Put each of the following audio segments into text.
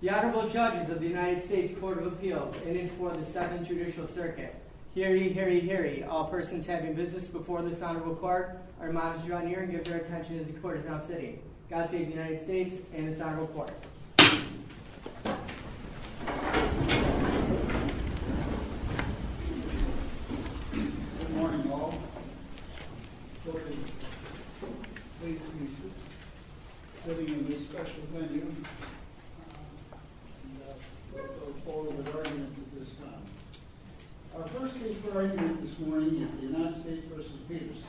The Honorable Judges of the United States Court of Appeals, in this one the Second Judicial Circuit. Hear ye, hear ye, hear ye, all persons having business before this Honorable Court are admonished to join ears and give their attention to the court of self-sitting. God save the United States and this Honorable Court. Good morning, all. Good morning. Thank you for having me, a special thank you for all your guidance at this time. Our first speaker this morning is the United States v. Peterson.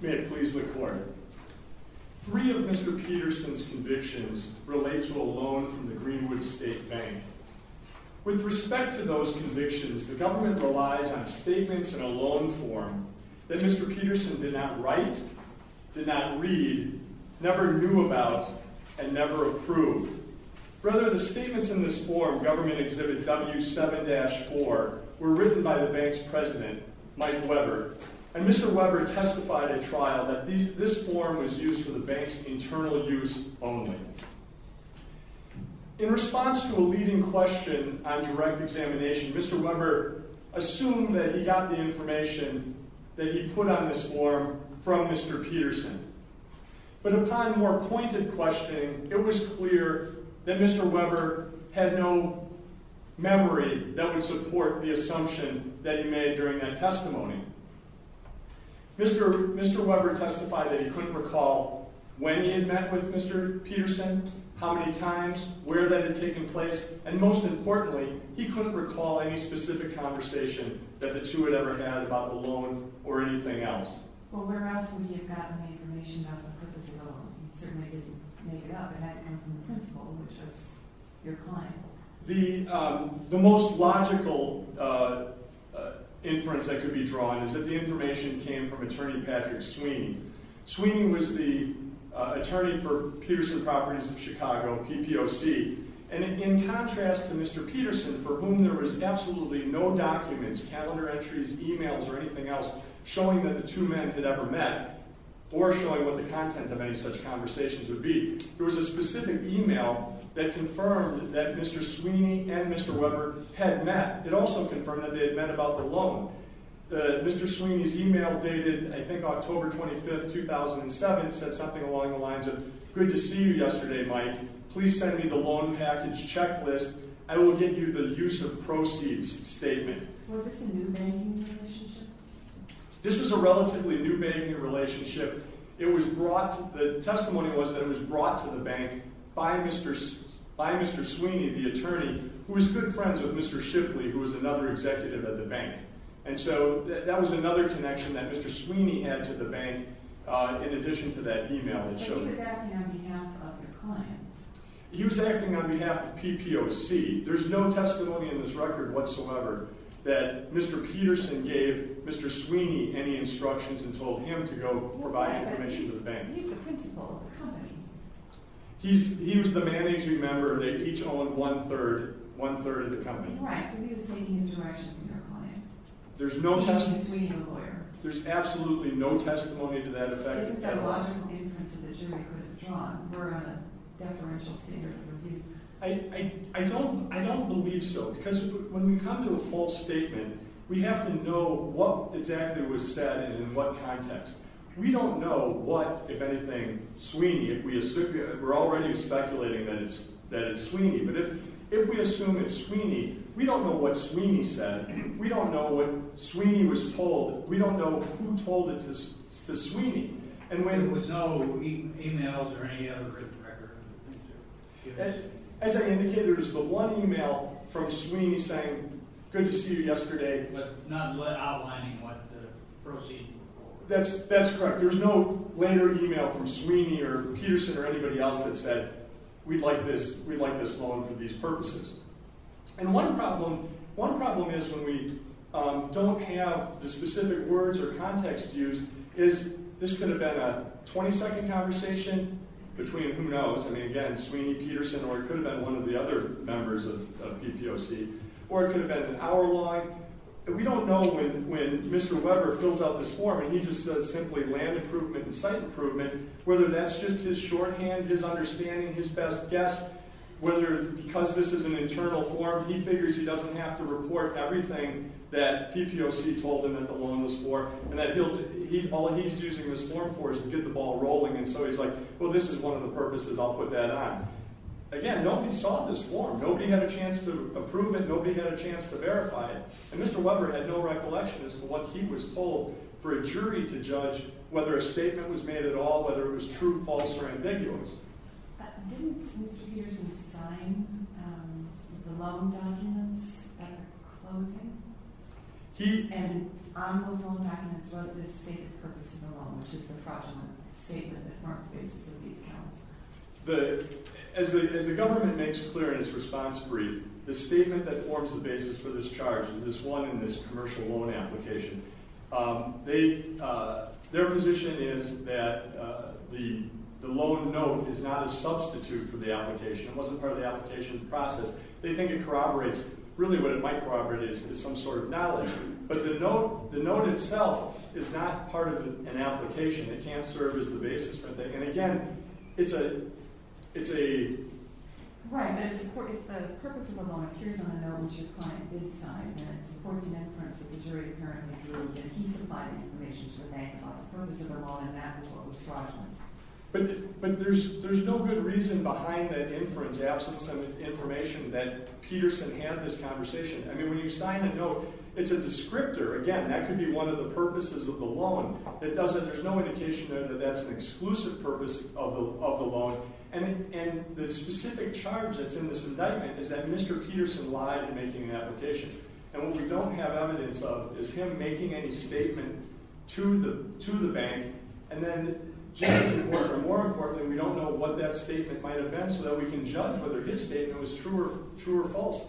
May it please the Court, three of Mr. Peterson's convictions relate to a loan from the Greenwood State Bank. With respect to those convictions, the government relies on statements in a loan form that Mr. Peterson did not write, did not read, never knew about, and never approved. Rather, the statements in this form, Government Exhibit W7-4, were written by the bank's president, Mike Weber, and Mr. Weber testified in trial that this form was used for the bank's internal use only. In response to a leading question on direct examination, Mr. Weber assumed that he got the information that he put on this form from Mr. Peterson. But upon a more pointed question, it was clear that Mr. Weber had no memory that would support the assumption that he made during that testimony. Mr. Weber testified that he couldn't recall when he met with Mr. Peterson, how many times, where that had taken place, and most importantly, he couldn't recall any specific conversation that the two had ever had about the loan or anything else. Well, where else would you have gotten the information that was put in the loan? The most logical inference that could be drawn is that the information came from Attorney Patrick Sweeney. Sweeney was the attorney for Peterson Properties of Chicago, PPOC. And in contrast to Mr. Peterson, for whom there was absolutely no documents, calendar entries, emails, or anything else showing that the two men had ever met, or showing what the content of any such conversations would be, there was a specific email that confirmed that Mr. Sweeney and Mr. Weber had met. It also confirmed that they had met about the loan. Mr. Sweeney's email dated, I think, October 25, 2007, said something along the lines of, good to see you yesterday, Mike. Please send me the loan package checklist. I will give you the use of proceeds statement. Was this a new banking relationship? This was a relatively new banking relationship. The testimony was then brought to the bank by Mr. Sweeney, the attorney, who was good friends with Mr. Shipley, who was another executive of the bank. And so that was another connection that Mr. Sweeney had to the bank in addition to that email that showed up. He was acting on behalf of your client. He was acting on behalf of PPOC. There's no testimony in this record whatsoever that Mr. Peterson gave Mr. Sweeney any instructions and told him to go more by the commission of the bank. He was the principal of the company. He was the managing member. They each owe him one-third of the company. Correct. He was taking instructions from your client. There's absolutely no testimony to that effect. There's a theological instance of this. I don't believe so because when we come to a false statement, we have to know what exactly was said and in what context. We don't know what, if anything, Sweeney. We're already speculating that it's Sweeney, but if we assume it's Sweeney, we don't know what Sweeney said. We don't know what Sweeney was told. And we have no emails or any other written records. As I indicated, there's the one email from Sweeney saying, good to see you yesterday, but not outlining what the proceeds were for. That's correct. There's no letter or email from Sweeney or Peterson or anybody else that said, we'd like this loan for these purposes. And one problem is when we don't have the specific words or context used is this could have been a 20-second conversation between, who knows, again, Sweeney, Peterson, or it could have been one of the other members of PTOC, or it could have been an hour long. We don't know when Mr. Weber fills out this form and he just says simply land improvement and site improvement, whether that's just his shorthand, his understanding, his best guess, whether because this is an internal form, he figures he doesn't have to report everything that PTOC told him at the loanless floor. And all he's using this form for is to get the ball rolling. And so he's like, well, this is one of the purposes. I'll put that on. Again, nobody saw this form. Nobody had a chance to approve it. Nobody had a chance to verify it. And Mr. Weber had no recollection as to what he was told for a jury to judge whether a statement was made at all, whether it was true, false, or ambiguous. Didn't Mr. Peterson sign the loan document at the closing? And on the loan document was the stated purpose of the loan, which is the fraudulent statement. As the government makes clear in its response brief, the statement that forms the basis for this charge with this loan and this commercial loan application, their position is that the loan note is not a substitute for the application. It wasn't part of the application process. They think it corroborates really what it might corroborate is some sort of knowledge. But the note itself is not part of an application. It can't serve as the basis for anything. And again, it's a— But there's no good reason behind it for his absence of information that Peterson had this conversation. I mean, when you sign the note, it's a descriptor. Again, that could be one of the purposes of the loan. It doesn't—there's no indication then that that's an exclusive purpose of the loan. And the specific charge that's in this indictment is that Mr. Peterson lied in making the application. And what we don't have evidence of is him making any statement to the bank. And then, more importantly, we don't know what that statement might have been so that we can judge whether his statement was true or false.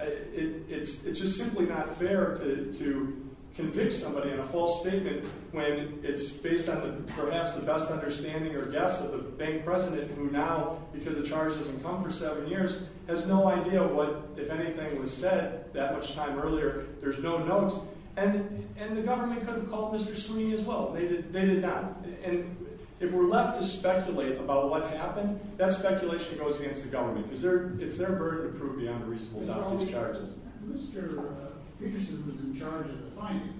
It's just simply not fair to convict somebody in a false statement when it's based on perhaps the best understanding or guess of the bank president, who now, because the charge doesn't come for seven years, has no idea what, if anything, was said that time earlier. There's no notes. And the government couldn't call Mr. Sweeney as well. They did not. And if we're left to speculate about what happened, that speculation goes against the government. It's their burden of proving unreasonable. Not all these charges. Mr. Peterson was in charge of the financing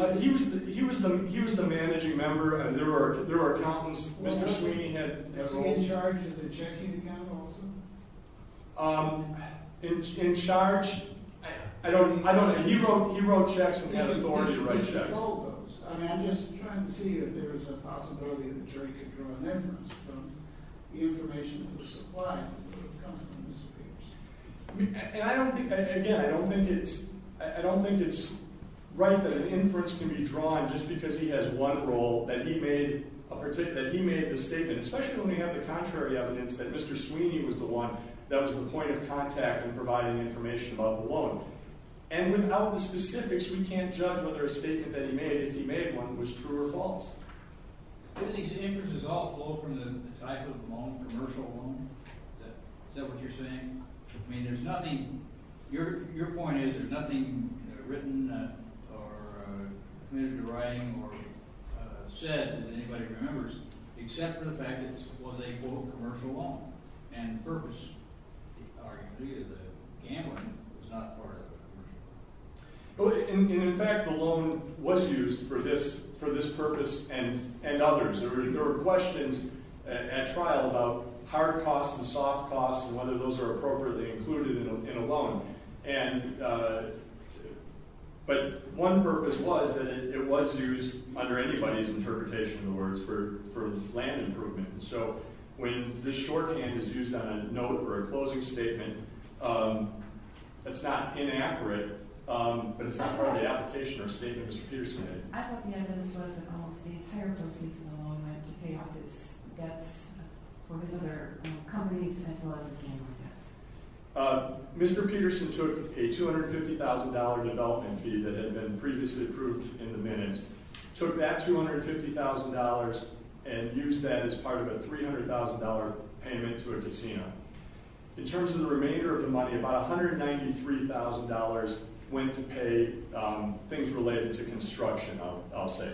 of the bank. He was the managing member, and there were problems. Was he in charge of the checking account also? In charge? I don't know. He wrote checks. He had authority to write checks. I'm just trying to see if there's a possibility in the checking for an inference from the information that was supplied. I don't think it's right that an inference can be drawn just because he has one role, that he made a statement, especially when we have the contrary evidence that Mr. Sweeney was the one that was the point of contact in providing information about the loan. And without the specifics, we can't judge whether a statement that he made, if he made one, was true or false. Isn't he saying this is all part of the type of loan, commercial loan? Is that what you're saying? I mean, there's nothing – your point is there's nothing written or written or said that anybody remembers except for the fact that this was a, quote, commercial loan. And in purpose. He said the handling was not part of the loan. In fact, the loan was used for this purpose and others. There were questions at trial about higher costs and soft costs and whether those were appropriately included in a loan. And – but one purpose was that it was used, under anybody's interpretation of the words, for land improvement. So, when the shorthand is used on a note or a closing statement, it's not inaccurate, but it's not part of the application of the statement Mr. Peterson made. I don't think I've ever heard the whole – the entire source of a loan that's paid off with debt for another company that's like the Chamber of Dept. Mr. Peterson took a $250,000 development fee that had been previously approved in the minutes, took that $250,000 and used that as part of a $300,000 payment to a casino. In terms of the remainder of the money, about $193,000 went to pay things related to construction, I'll say,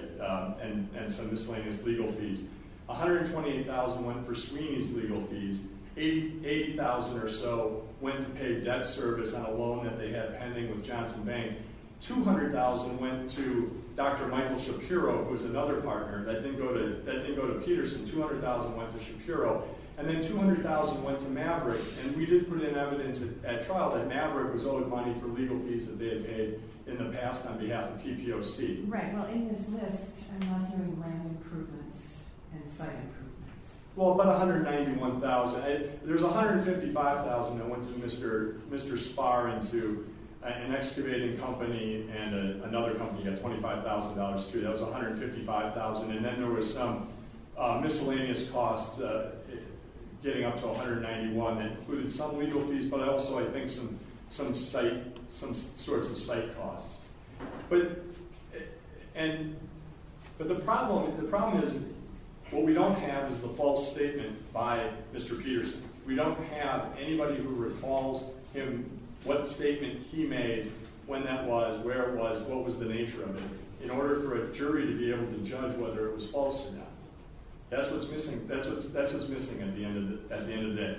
and some of this money is legal fees. $128,000 went for screenings legal fees. $80,000 or so went to pay debt service on a loan that they had pending with Johnson Bank. $200,000 went to Dr. Michael Shapiro, who was another partner that didn't go to Peterson. $200,000 went to Shapiro. And then $200,000 went to Maverick. And we did put in evidence at trial that Maverick was owed money for legal fees that they had paid in the past on behalf of TPO Speed. Right, well, in this case, I'm not hearing land improvement and site improvement. Well, about $191,000. There's $155,000 that went to Mr. Spahr and to an excavating company and another company had $25,000 too. That was $155,000. And then there was some miscellaneous costs getting up to $191,000 that included some legal fees but also, I think, some site, some sorts of site costs. But the problem is what we don't have is the false statement by Mr. Peterson. We don't have anybody who recalls him, what statement he made, when that was, where it was, what was the nature of it, in order for a jury to be able to judge whether it was false or not. That's what's missing at the end of the day.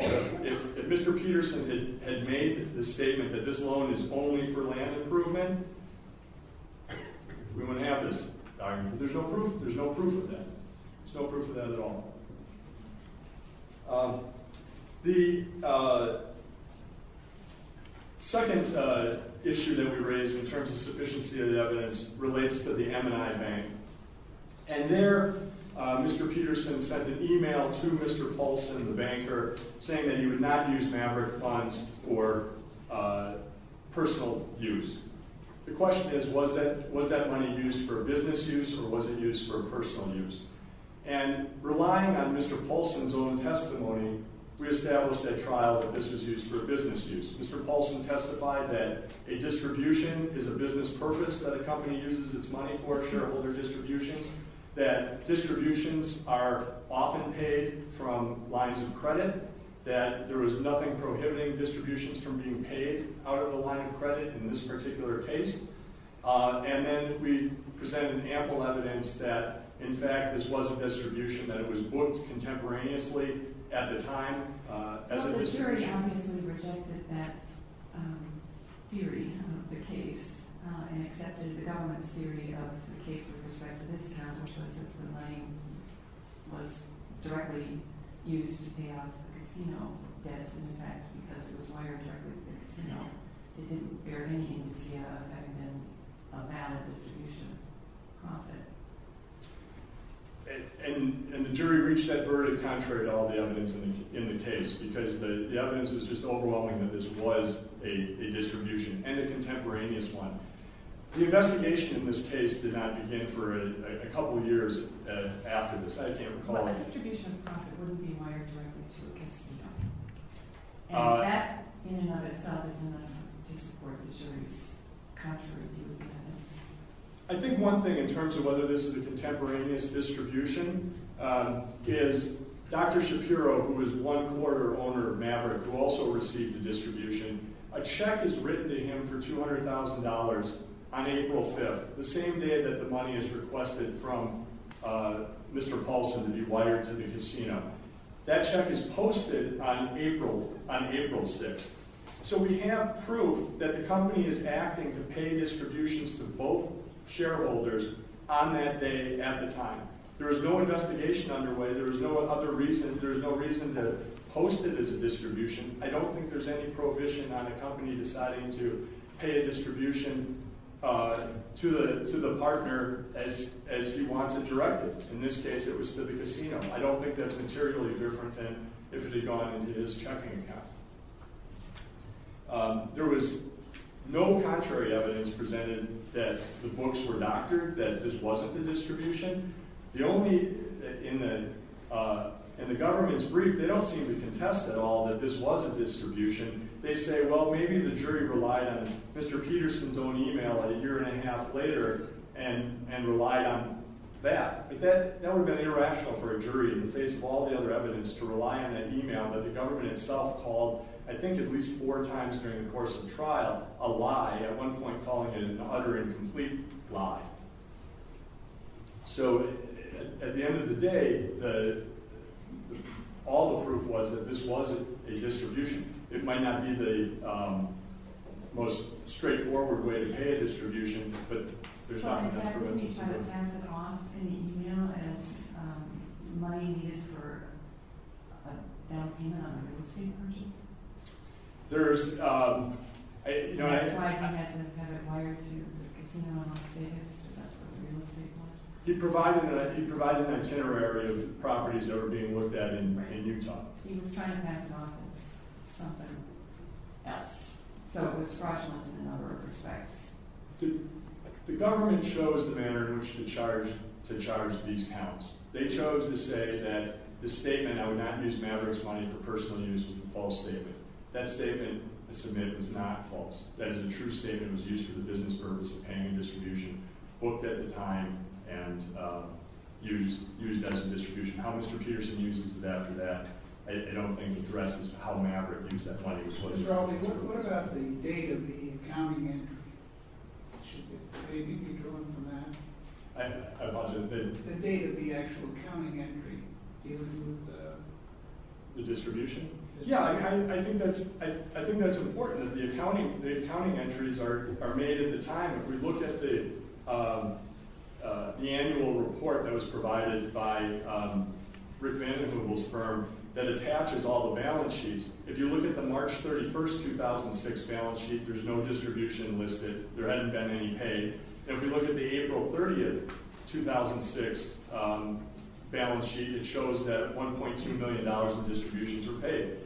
If Mr. Peterson had made the statement that this loan is only for land improvement, we wouldn't have this document. There's no proof of that. There's no proof of that at all. The second issue that we raised in terms of sufficiency of evidence relates to the M&I Bank. And there, Mr. Peterson sent an email to Mr. Paulson, the banker, saying that he would not use Maverick funds for personal use. The question is, was that money used for business use or was it used for personal use? And relying on Mr. Paulson's own testimony, we established a trial of business use for business use. Mr. Paulson testified that a distribution is a business purpose, that a company uses its money for shareholder distributions, that distributions are often paid from lines of credit, that there is nothing prohibiting distributions from being paid out of the line of credit in this particular case. And then we presented ample evidence that, in fact, this was a distribution that was booked contemporaneously at the time. So the jury obviously rejected that theory of the case and accepted the government's theory of the case with respect to this account, which was that the money was directly used to pay out of credit, you know, that it's in effect, because it was wiretapped. You know, it didn't bear any effect in terms of how that distribution was profited. And the jury reached that verdict contrary to all the evidence in the case, because the evidence is just overwhelming that this was a distribution, and a contemporaneous one. The investigation in this case did not begin for a couple of years after this. I can't recall. I think one thing in terms of whether this is a contemporaneous distribution is Dr. Shapiro, who is one quarter owner of Maverick, who also received the distribution, a check is written to him for $200,000 on April 5th, the same day that the money is requested from Mr. Paulson to be wired to the casino. That check is posted on April 6th. So we have proof that the company is acting to pay distributions to both shareholders on that day at the time. There is no investigation underway. There is no other reason. There is no reason to post it as a distribution. I don't think there's any prohibition on a company deciding to pay a distribution to the partner as he wanted directly. In this case, it was to the casino. I don't think that's materially different than if it had gone into his checking account. There was no contrary evidence presented that the books were doctored, that this wasn't a distribution. In the government's brief, they don't seem to contest at all that this was a distribution. They say, well, maybe the jury relied on Mr. Peterson's own email a year and a half later and relied on that. That would have been irrational for a jury, in place of all the other evidence, to rely on an email that the government itself called, I think at least four times during the course of the trial, a lie. At one point calling it an utter and complete lie. So, at the end of the day, all the proof was that this wasn't a distribution. It might not be the most straightforward way to pay a distribution, but they're trying to do it. He provided an itinerary of properties that were being looked at in Utah. The government chose the manner in which to charge these accounts. They chose to say that the statement, I would not use Maverick's money for personal use is a false statement. That statement, I submit, is not false. That is a true statement that was used for the business purpose of paying a distribution, booked at the time, and used as a distribution. How Mr. Peterson uses it after that, I don't think addresses how Maverick used that money. Yeah, I think that's important. The accounting entries are made at the time. If you look at the annual report that was provided by Rick Vanden Heuvel's firm, that attaches all the balance sheets. If you look at the March 31, 2006 balance sheet, there's no distribution listed. There hasn't been any paid. If we look at the April 30, 2006 balance sheet, it shows that $1.2 million in distributions were paid.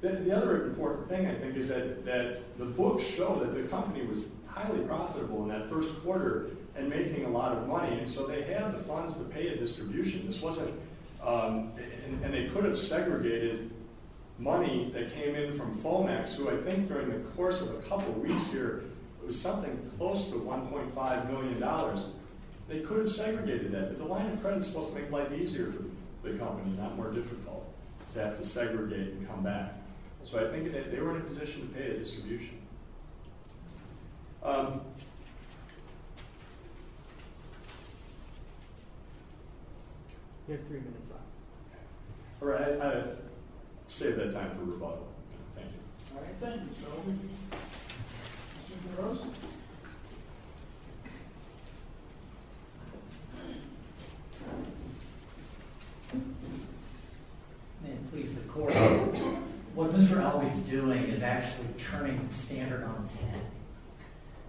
The other important thing, I think, is that the book showed that the company was highly profitable in that first quarter and making a lot of money, and so they had the funds to pay a distribution. They could have segregated money that came in from FOMAX. I think during the course of a couple weeks here, there was something close to $1.5 million. They could have segregated that, but the line of credence most people think might be easier for the company, not more difficult, to have to segregate and come back. So I think that they were in a position to pay a distribution. I'll save that time for the follow-up. Thank you. And please, the court, what Mr. Albee is doing is actually turning the standard on its head.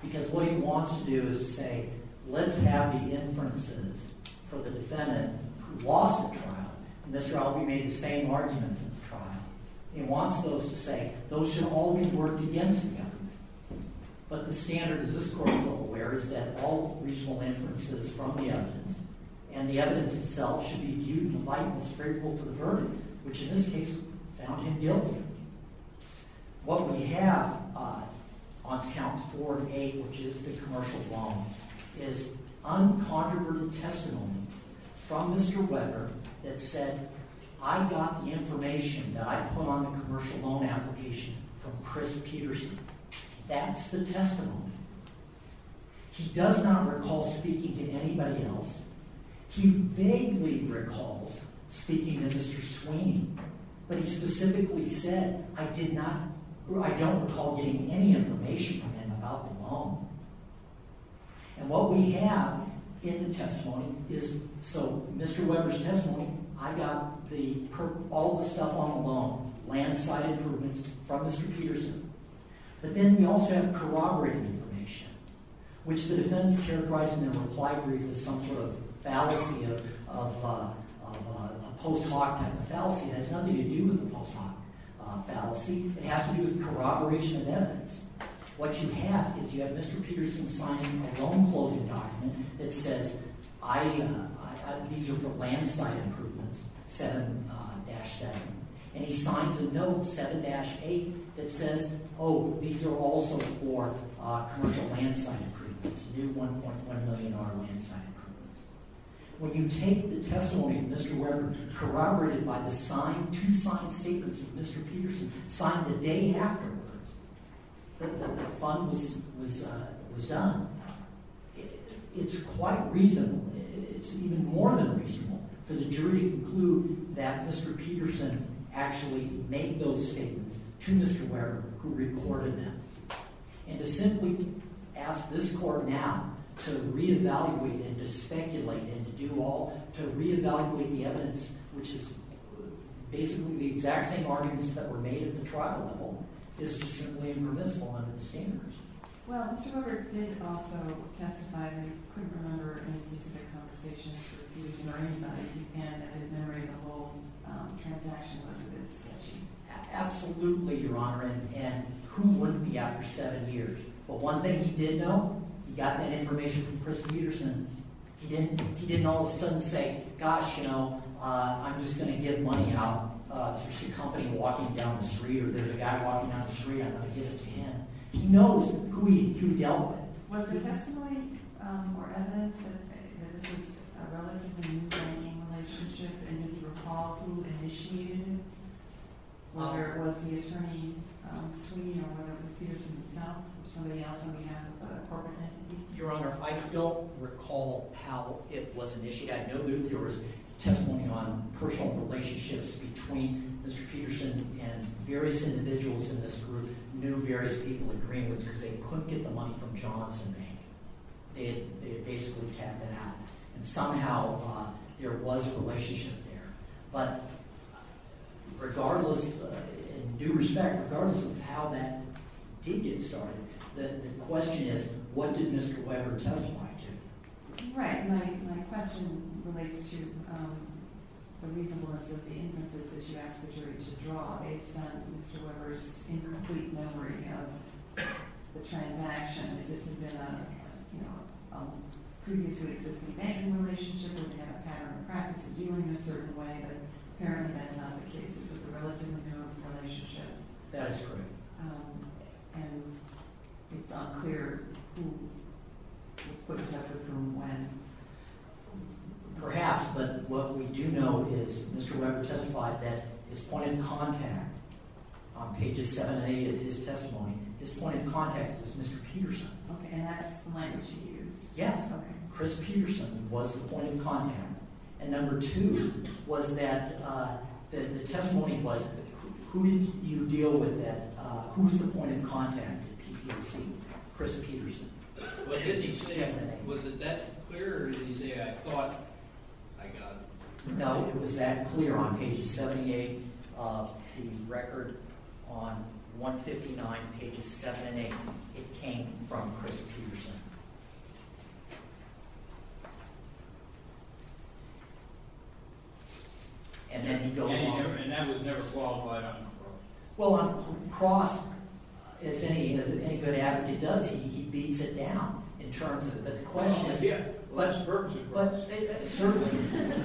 Because what he wants to do is say, let's have the inferences for the defendant who lost the trial. Mr. Albee made the same arguments in his trial. He wants those to say, those should always work against him. But the standard, as this court is aware, is that all reasonable inferences from the evidence, and the evidence itself should be viewed in a light that's fair for the verdict, which in this case found him guilty. What we have on counts 4 and 8, which is the commercial loan, is uncontroverted testimony from Mr. Weber that said, I got the information that I put on the commercial loan application from Chris Peterson. That's the testimony. He does not recall speaking to anybody else. He vaguely recalls speaking to Mr. Sweeney. But he specifically said, I don't recall getting any information from him about the loan. And what we have in the testimony is, so Mr. Weber's testimony, I got all the stuff on the loan, landslide improvements, from Mr. Peterson. But then we also have corroborated information, which the defense is characterizing in a reply brief as some sort of fallacy of post-mortem. A fallacy has nothing to do with a post-mortem fallacy. It has to do with corroboration of evidence. What you have is you have Mr. Peterson signing a loan closing document that says, these are the landslide improvements, 7-7. And he signs a note, 7-8, that says, oh, these are also for commercial landslide improvements, new $1.5 million landslide improvements. When you take the testimony of Mr. Weber corroborated by the two signed papers that Mr. Peterson signed the day after the funds was done, it's quite reasonable. It's even more than reasonable. For the jury to conclude that Mr. Peterson actually made those statements to Mr. Weber, who reported them, and to simply ask this court now to re-evaluate and to speculate and to do all, to re-evaluate the evidence, which is basically the exact same arguments that were made at the trial level. This is simply permissible under the standards. Well, Mr. Weber did also testify that he couldn't remember any specific complications that he was concerned about. He can't commemorate the whole transaction with Mr. Peterson. Absolutely, Your Honor. And who wouldn't be after seven years? But one thing he did know, he got that information from Chris Peterson. He didn't all of a sudden say, gosh, you know, I'm just going to give money out to a company walking down the street, or there's a guy walking down the street, I'm going to give it to him. He knows who he dealt with. Was there testimony or evidence that there was a relatively new friendship, and did you recall who initiated it? Whether it was the attorney between you and Mr. Peterson or not, or somebody else on behalf of the court? Your Honor, I don't recall how it was initiated. I know there was testimony on personal relationships between Mr. Peterson and various individuals in this group knew various people in Greenwood because they couldn't get the one from Johnson. They had basically kept it out. Somehow or other, there was a relationship there. But regardless, in due respect, regardless of how that deed get started, the question is, what did Mr. Weber testify to? Right. My question relates to the reason for the instances that you asked the jury to draw. It's not Mr. Weber's incomplete memory of the chain of action. If this has been a previously existing family relationship, and we have a pattern of practice of dealing in a certain way, but apparently that's not the case. It's a relatively new relationship. That is correct. And it's not clear who pushed after whom and when. Perhaps, but what we do know is Mr. Weber testified that his point of contact on pages 7 and 8 of his testimony, his point of contact was Mr. Peterson. Okay, and I have a client here. Yeah. Chris Peterson was the point of contact. And number two was that the testimony was, who did you deal with at, who's the point of contact that you received? Chris Peterson. Was it that clear or did you say, I thought, I got it? No, it was that clear on pages 78 of the record. On 159 pages 7 and 8, it came from Chris Peterson. And then you go on. And that was never solved by him? Well, Cross, if any good advocate does, he leads it down in terms of the question. Well, yeah, let's say that. Let's say that. Certainly.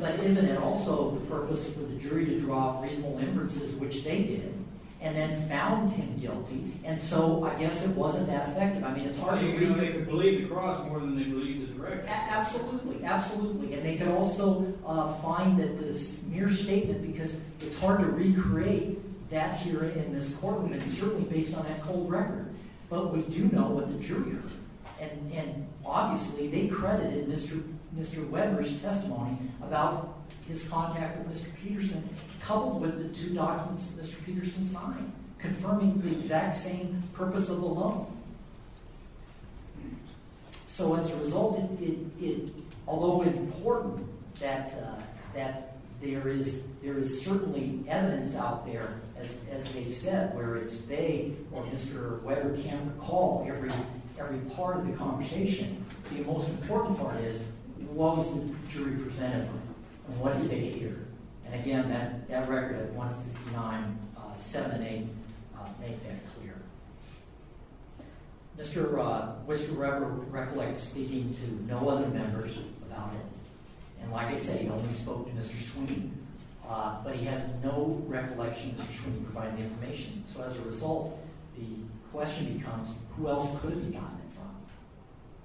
But isn't it also the purpose of the jury to draw reasonable inferences, which they did, and then found him guilty, and so I guess it wasn't that effective. I mean, it's hard for you to believe Cross more than you believe the jury. Absolutely, absolutely. And they can also find that this mere statement, because it's hard to recreate that here in this courtroom, certainly based on that whole record. But we do know what the jury heard. And obviously, they credited Mr. Webber's testimony about his contact with Mr. Peterson, coupled with the two documents that Mr. Peterson signed, confirming the exact same purpose of the loan. So as a result, although it's important that there is certainly evidence out there, as Jay said, whether it's they or Mr. Webber can recall every part of the conversation, the most important part is, what was the jury presented with, and what did they hear? And again, that record that 159.7 and 8 make that clear. Mr. Webber recollects speaking to no other members without him. And like I say, he only spoke to Mr. Sweeney. But he has no recollection of Mr. Sweeney providing the information. So as a result, the question becomes, who else could he have gotten it from?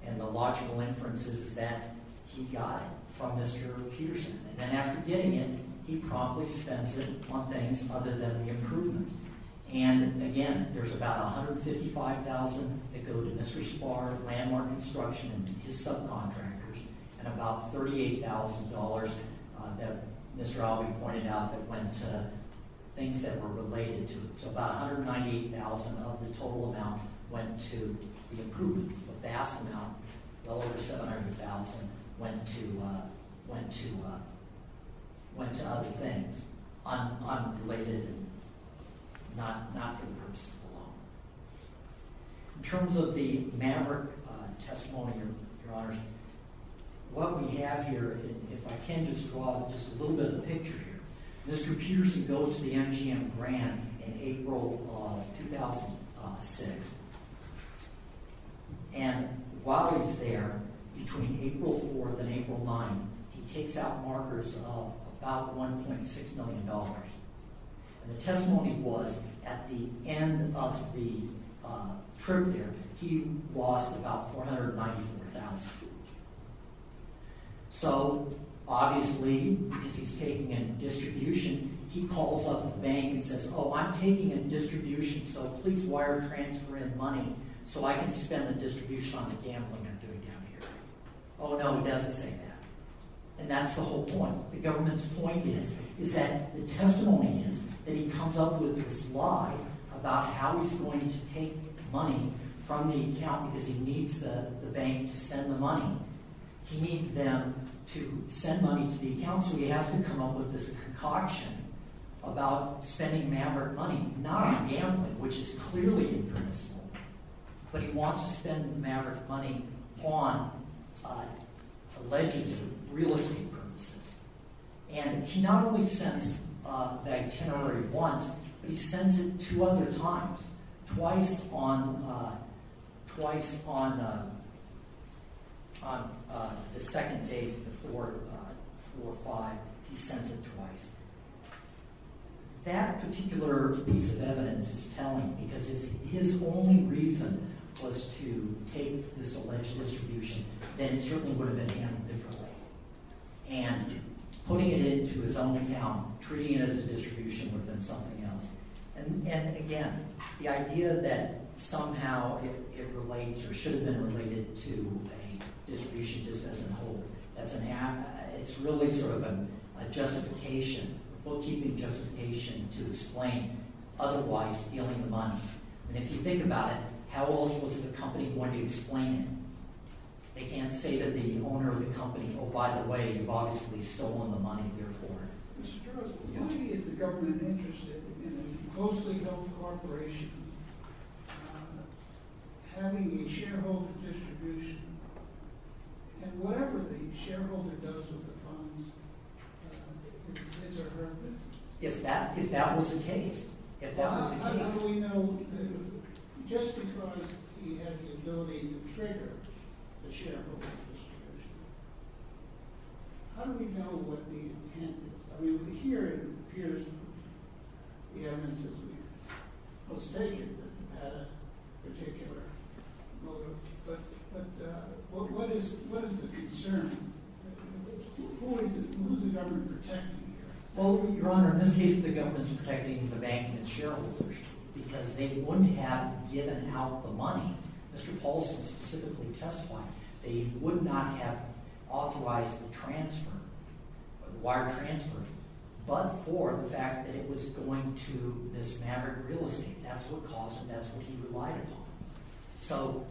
And the logical inference is that he got it from Mr. Peterson. And after getting it, he promptly suspended it on things other than the improvements. And again, there's about $155,000 that go to industry support, landmark construction, to subcontractors, and about $38,000 that Mr. Albee pointed out that went to things that were related to it. So about $198,000 of the total amount went to the improvements. The vast amount, well over $700,000, went to other things unrelated and not to the person alone. In terms of the Maverick testimony, Your Honor, what we have here, if I can just draw just a little bit of a picture here. Mr. Peterson goes to the MGM grant in April of 2006. And while he's there, between April 4th and April 9th, he takes out markers of about $1.6 million. And the testimony was, at the end of the trip there, he lost about $494,000. So obviously, because he's taking in distribution, he calls up the bank and says, Oh, I'm taking in distribution, so please wire transfer in money so I can spend the distribution on the gambling I'm doing down here. Oh, no, he doesn't say that. And that's the whole point. The government's point is, is that the testimony that he comes up with is lie about how he's going to take money from the account because he needs the bank to send the money. He needs them to send money to the account. So he has to come up with this concoction about sending Maverick money, not on gambling, which is clearly impermissible, but he wants to send Maverick money on alleged real estate premises. And he not only sends that itinerary once, but he sends it two other times. Twice on the second day before April 5th, he sends it twice. That particular piece of evidence is telling me that if his only reason was to take this alleged distribution, then it certainly would have been handled differently. And putting it into his own account, treating it as a distribution, would have been something else. And again, the idea that somehow it relates or should have been related to a distribution decision, it's really sort of a justification, a bookkeeping justification to explain otherwise stealing the money. And if you think about it, how else was the company going to explain it? They can't say that the owner of the company, oh by the way, you've obviously stolen the money, therefore. How many of the government are interested in a closely held corporation having a shareholder distribution? And whatever the shareholder does with the funds, it's a reference. If that was the case, if that was the case. How do we know that just because he has a million figures, a shareholder distribution, how do we know what the intent is? I mean, here it appears that the evidence is postdated at a particular motive. But what is the concern? Who is the government protecting here? Well, Your Honor, in this case the government is protecting the bank and the shareholders because they wouldn't have given out the money. Mr. Paulson specifically testified. They would not have authorized the transfer, the wire transfer, but for the fact that it was going to dismantle real estate. That's what Paulson, that's what he relied upon. So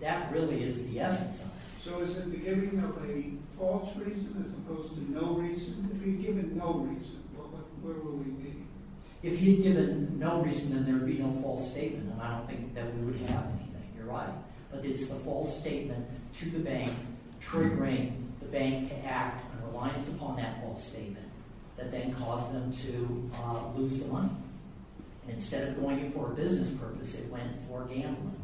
that really is the evidence. So is there a false reason as opposed to no reason? If he'd given no reason, where would we be? If he'd given no reason, then there would be no false statement. And I don't think that would happen, Your Honor. But it's a false statement to the bank triggering the bank to act and reliance upon that false statement that then caused them to lose the money. Instead of going for business purposes, they went for gambling.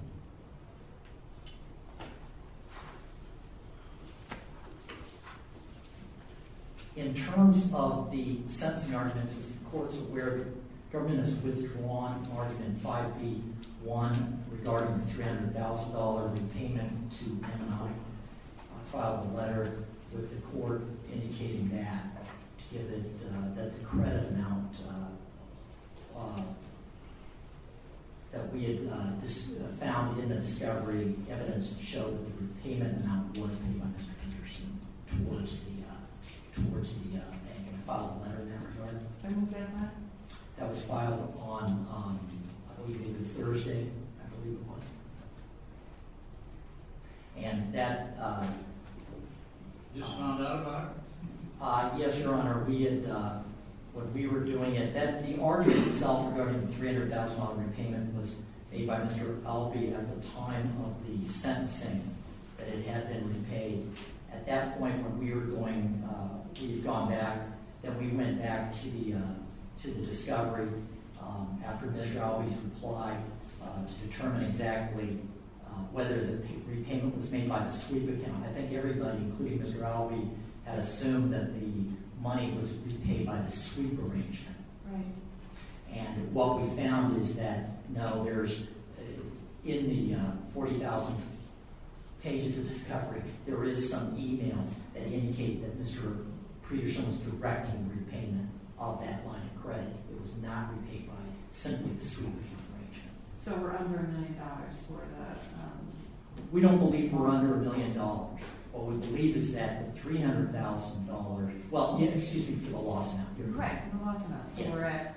In terms of the sentencing arguments, the court is aware that the firm has withdrawn argument 5B-1 regarding the $300,000 repayment to a filed letter with the court indicating that the credit amount that we had found in the discovery of the evidence showed the repayment amount towards the filed letter that was filed on Thursday. And that... Just found out about it? Yes, Your Honor. When we were doing it, the argument itself regarding the $300,000 repayment was made by Mr. Albee at the time of the sentencing that it had been repaid. At that point, when we had gone back, then we went back to the discovery after Mr. Albee's reply to determine exactly whether the repayment was made by the sweep account. I think everybody, including Mr. Albee, had assumed that the money was repaid by the sweep arrangement. Right. And what we found is that, no, there's... In the 40,000 pages of discovery, there is some e-mail that indicates that Mr. Predersen was correcting the repayment of that money. Correct. It was not repaid by the sweep arrangement. So we're under a million dollars for the... We don't believe we're under a million dollars. What we believe is that the $300,000... Well, excuse me for the loss. Correct. We're at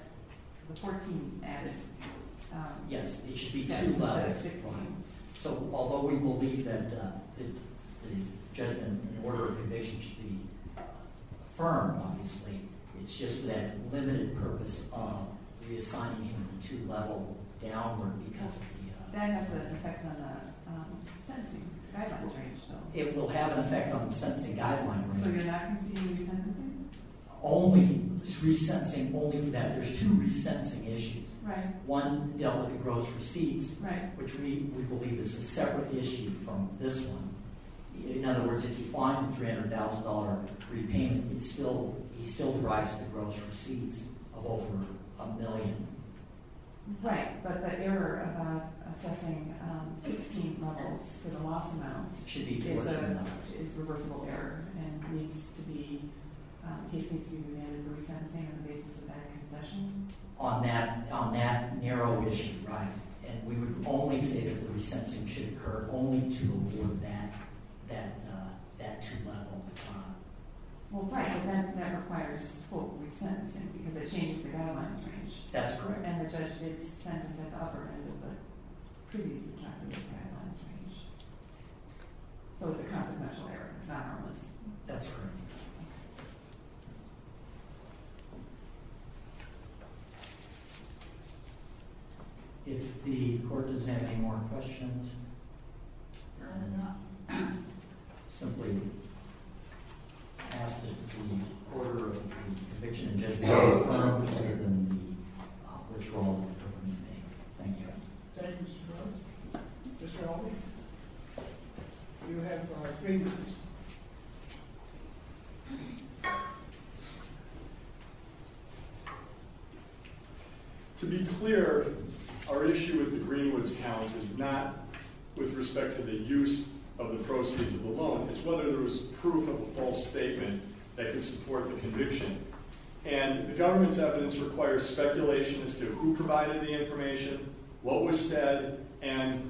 the $14,000. Yes, it should be $14,000. So although we believe that it's just an order of conditions to be firm, obviously, it's just that limited purpose of redesigning to level downward because of the... That has an effect on the sentencing. It will have an effect on the sentencing guideline. So you're not confusing the sentencing? Only that there's two resentencing issues. Right. One dealt with gross receipts. Right. Which we believe is a separate issue from this one. In other words, if you find $300,000 repayment, you still rise to the gross receipts of over a million. Right. But the error of assessing 15 levels is a loss amount. It's reversible error. On that narrow issue, right. And we would only say that the resentencing should occur only to award back that $200,000. That's correct. But the content's there. Not only. That's correct. If the court is having more questions, I would not simply ask the court or the conviction just to be firm, other than which one of them you think. Thank you. Thank you, Mr. Jones. Mr. Albert. To be clear, our issue with the Greenwoods Count is not with respect to the use of the proceeds of the loan. It's whether there was proof of a false statement that could support the conviction. And the government's evidence requires speculation as to who provided the information, what was said, and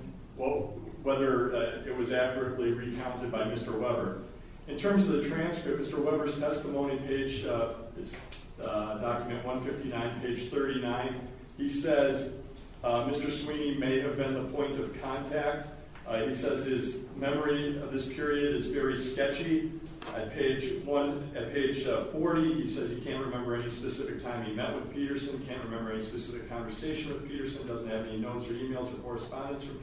whether it was advertly recounted by Mr. Weber. In terms of the transcript, Mr. Weber's testimony, page document 159, page 39, he says Mr. Sweeney may have been the point of contact. He says his memory of this period is very sketchy. At page 40, he says he can't remember any specific time he met with Peterson, can't remember any specific conversation with Peterson, doesn't have any notes or emails or correspondence with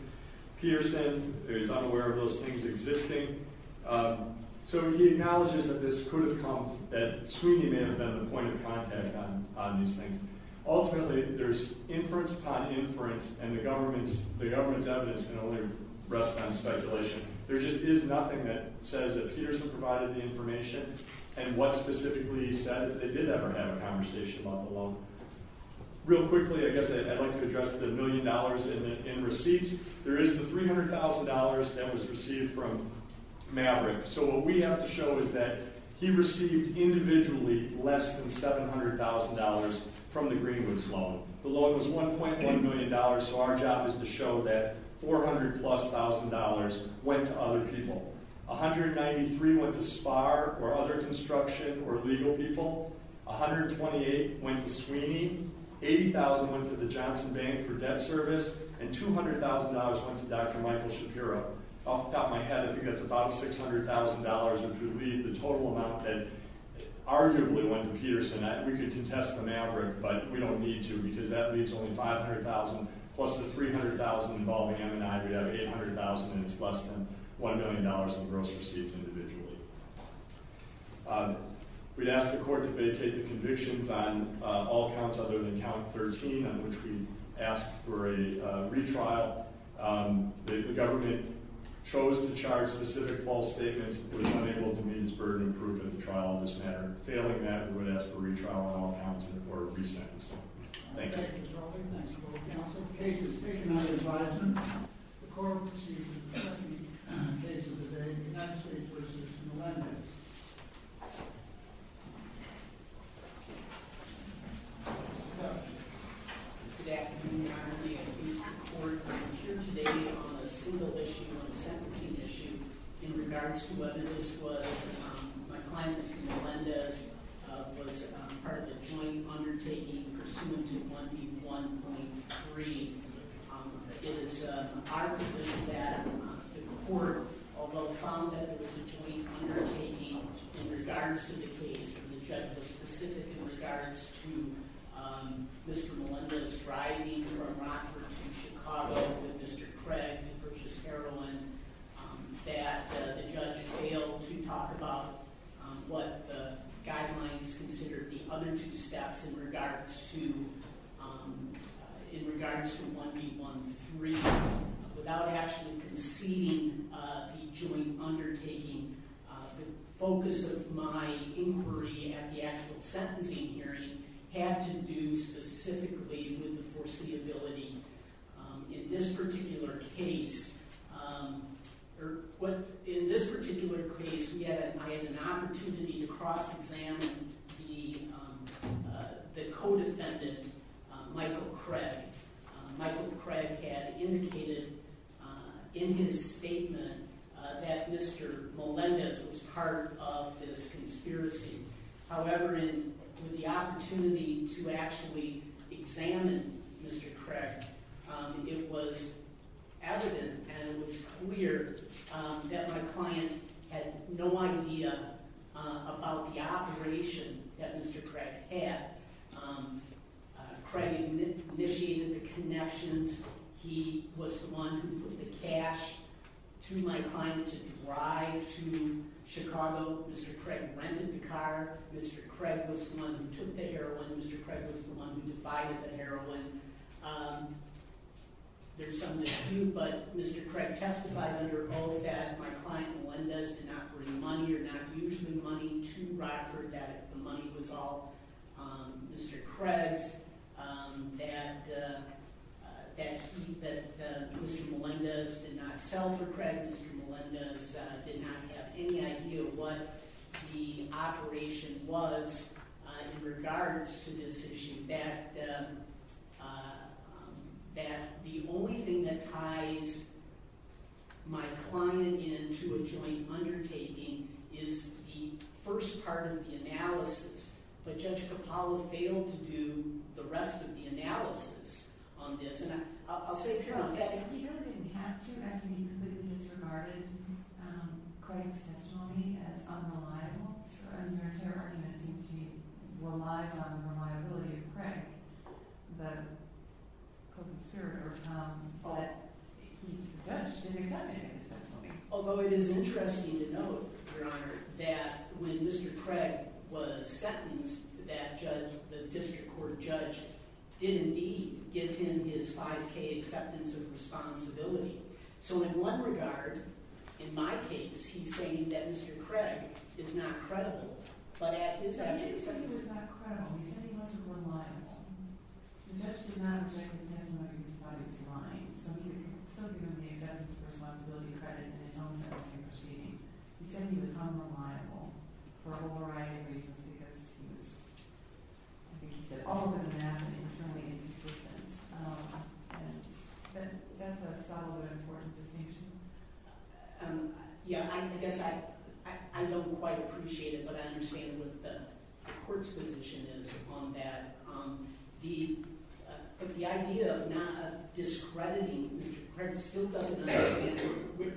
Peterson, is unaware of those things existing. So he acknowledges that this could have come, that Sweeney may have been the point of contact on these things. Ultimately, there's inference upon inference, and the government's evidence can only rest on speculation. There just is nothing that says that Peterson provided the information and what specifically he said that they did ever have a conversation about the loan. Real quickly, I guess I'd like to address the million dollars in receipts. There is the $300,000 that was received from Maverick. So what we have to show is that he received individually less than $700,000 from the Greenwoods loan. The loan was $1.8 million, so our job is to show that $400,000-plus went to other people. $193,000 went to Sparr or other construction or legal people. $128,000 went to Sweeney. $80,000 went to the Johnson Bank for debt service. And $200,000 went to Dr. Michael Shapiro. Off the top of my head, we get about $600,000, which would be the total amount that arguably went to Peterson. We could contest from Maverick, but we don't need to, because that leaves only $500,000 plus the $300,000 involving M&I. We'd have $800,000, and it's less than $1 million in gross receipts individually. We'd ask the court to vacate the convictions on all counts other than count 13, on which we'd ask for a retrial. The government chose to charge specific false statements because it was unable to means for an improvement of the trial in this matter. Failing that, we would ask for retrial on all counts before it resets. Thank you. Thank you, Mr. Halpern. Thank you for your counsel. The case is taken under advisement. The court receives the second case of the day, the United States v. Melendez. Good afternoon, Your Honor. I'm here today on a single-issue, one-sentencing issue, in regards to whether this was a claim to Melendez or was part of the joint undertaking pursuant to 1P1.3. It is our position that the court, although commented to the joint undertaking in regards to the case, the judge was specific in regards to Mr. Melendez's driving or not, or to Chicago and Mr. Craig and British Heroin, that the judge failed to talk about what the guidelines considered the other two steps in regards to 1P1.3 without actually conceding the joint undertaking. The focus of my inquiry at the actual sentencing hearing had to do specifically with the foreseeability. In this particular case, we had an opportunity to cross-examine the co-defendant, Michael Craig. Michael Craig had indicated in his statement that Mr. Melendez was part of this conspiracy. However, in the opportunity to actually examine Mr. Craig, it was evident and it was clear that my client had no idea about the operation that Mr. Craig had. Craig initiated the connections. He was the one who put the cash to my client to drive to Chicago. Mr. Craig rented the car. Mr. Craig was the one who took the heroin. Mr. Craig was the one who buys the heroin. There's some that do, but Mr. Craig testified under oath that my client, Melendez, did not bring money, or not usually money, to Robert, that the money was all Mr. Craig's. That Mr. Melendez did not sell to Craig. Mr. Melendez did not have any idea what the operation was in regards to this issue. The only thing that ties my client into a joint undertaking is the first part of the analysis, but Judge Capallo failed to do the rest of the analysis on this. I'll say it's your own. Do you have any reaction to Mr. Craig's testimony as unreliable? I mean, there's evidence that he relied on the reliability of Craig, the co-conspirator of Tom, but he didn't testify. Although it is interesting to note, Your Honor, that when Mr. Craig was sentenced, that judge, the district court judge, did indeed give him his 5K acceptance of responsibility. So in one regard, in my case, he's saying that Mr. Craig is not credible. But it's actually something that's not credible. He said he wasn't reliable. The judge did not say that he had money. So if you're going to give Mr. Craig his responsibility credit, that's something that's interesting. He said he was unreliable for a whole variety of reasons. He said, oh, I'm going to ask him to tell me his position. I don't understand. That's not what I'm talking about. Yeah, I don't quite appreciate it, but I understand what the court's position is on that. The idea of not discrediting Mr. Craig still doesn't make sense.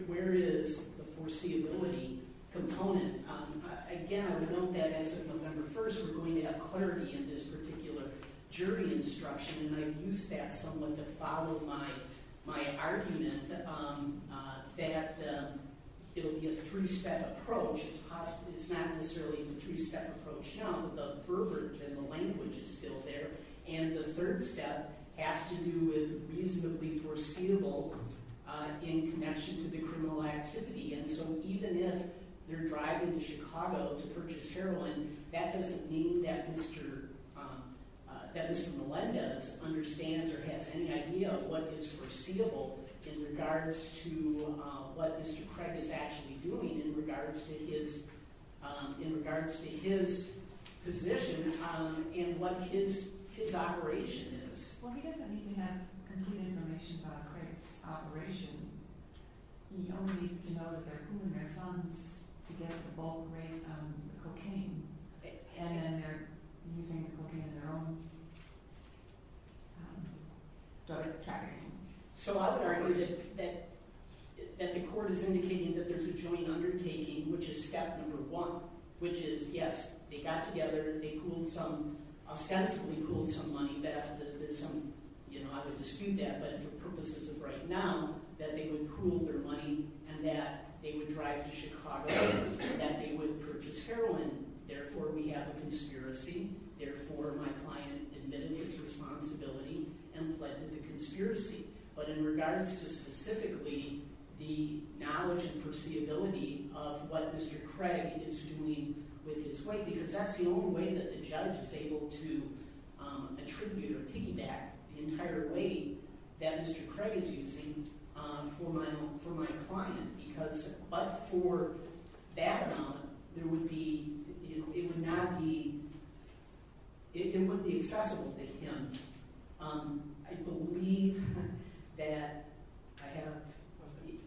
Where is the foreseeability component? Again, I would note that, as a member, first we're going to have clarity in this particular jury instruction. And I would use that somewhat to follow my argument that it would be a two-step approach. It's not necessarily a two-step approach now. The verbiage and the language is still there. And the third step has to do with reasonably foreseeable in connection to the criminal activity. And so even if they're driving to Chicago to purchase heroin, that doesn't mean that Mr. Millenda understands or has any idea of what is foreseeable in regards to what Mr. Craig is actually doing, in regards to his position in what his operation is. Well, he doesn't need to have complete information about Craig's operation. We don't need to know that they're using their funds to get the bulk of the cocaine. And they're using it looking at their own drug trafficking. So I would argue that the court is indicating that there's a joint undertaking, which is step number one, which is, yes, they got together. They ostensibly pooled some money. I would dispute that, but for the purposes of right now, that they would pool their money and that they would drive to Chicago and that they would purchase heroin. Therefore, we have a conspiracy. Therefore, my client admits his responsibility and pledges a conspiracy. But in regards to specifically the knowledge and foreseeability of what Mr. Craig is doing with his weight, because that's the only way that the judge is able to attribute feedback, the entire weight that Mr. Craig is using for my client. But for background, it would be accessible to him. I believe that I have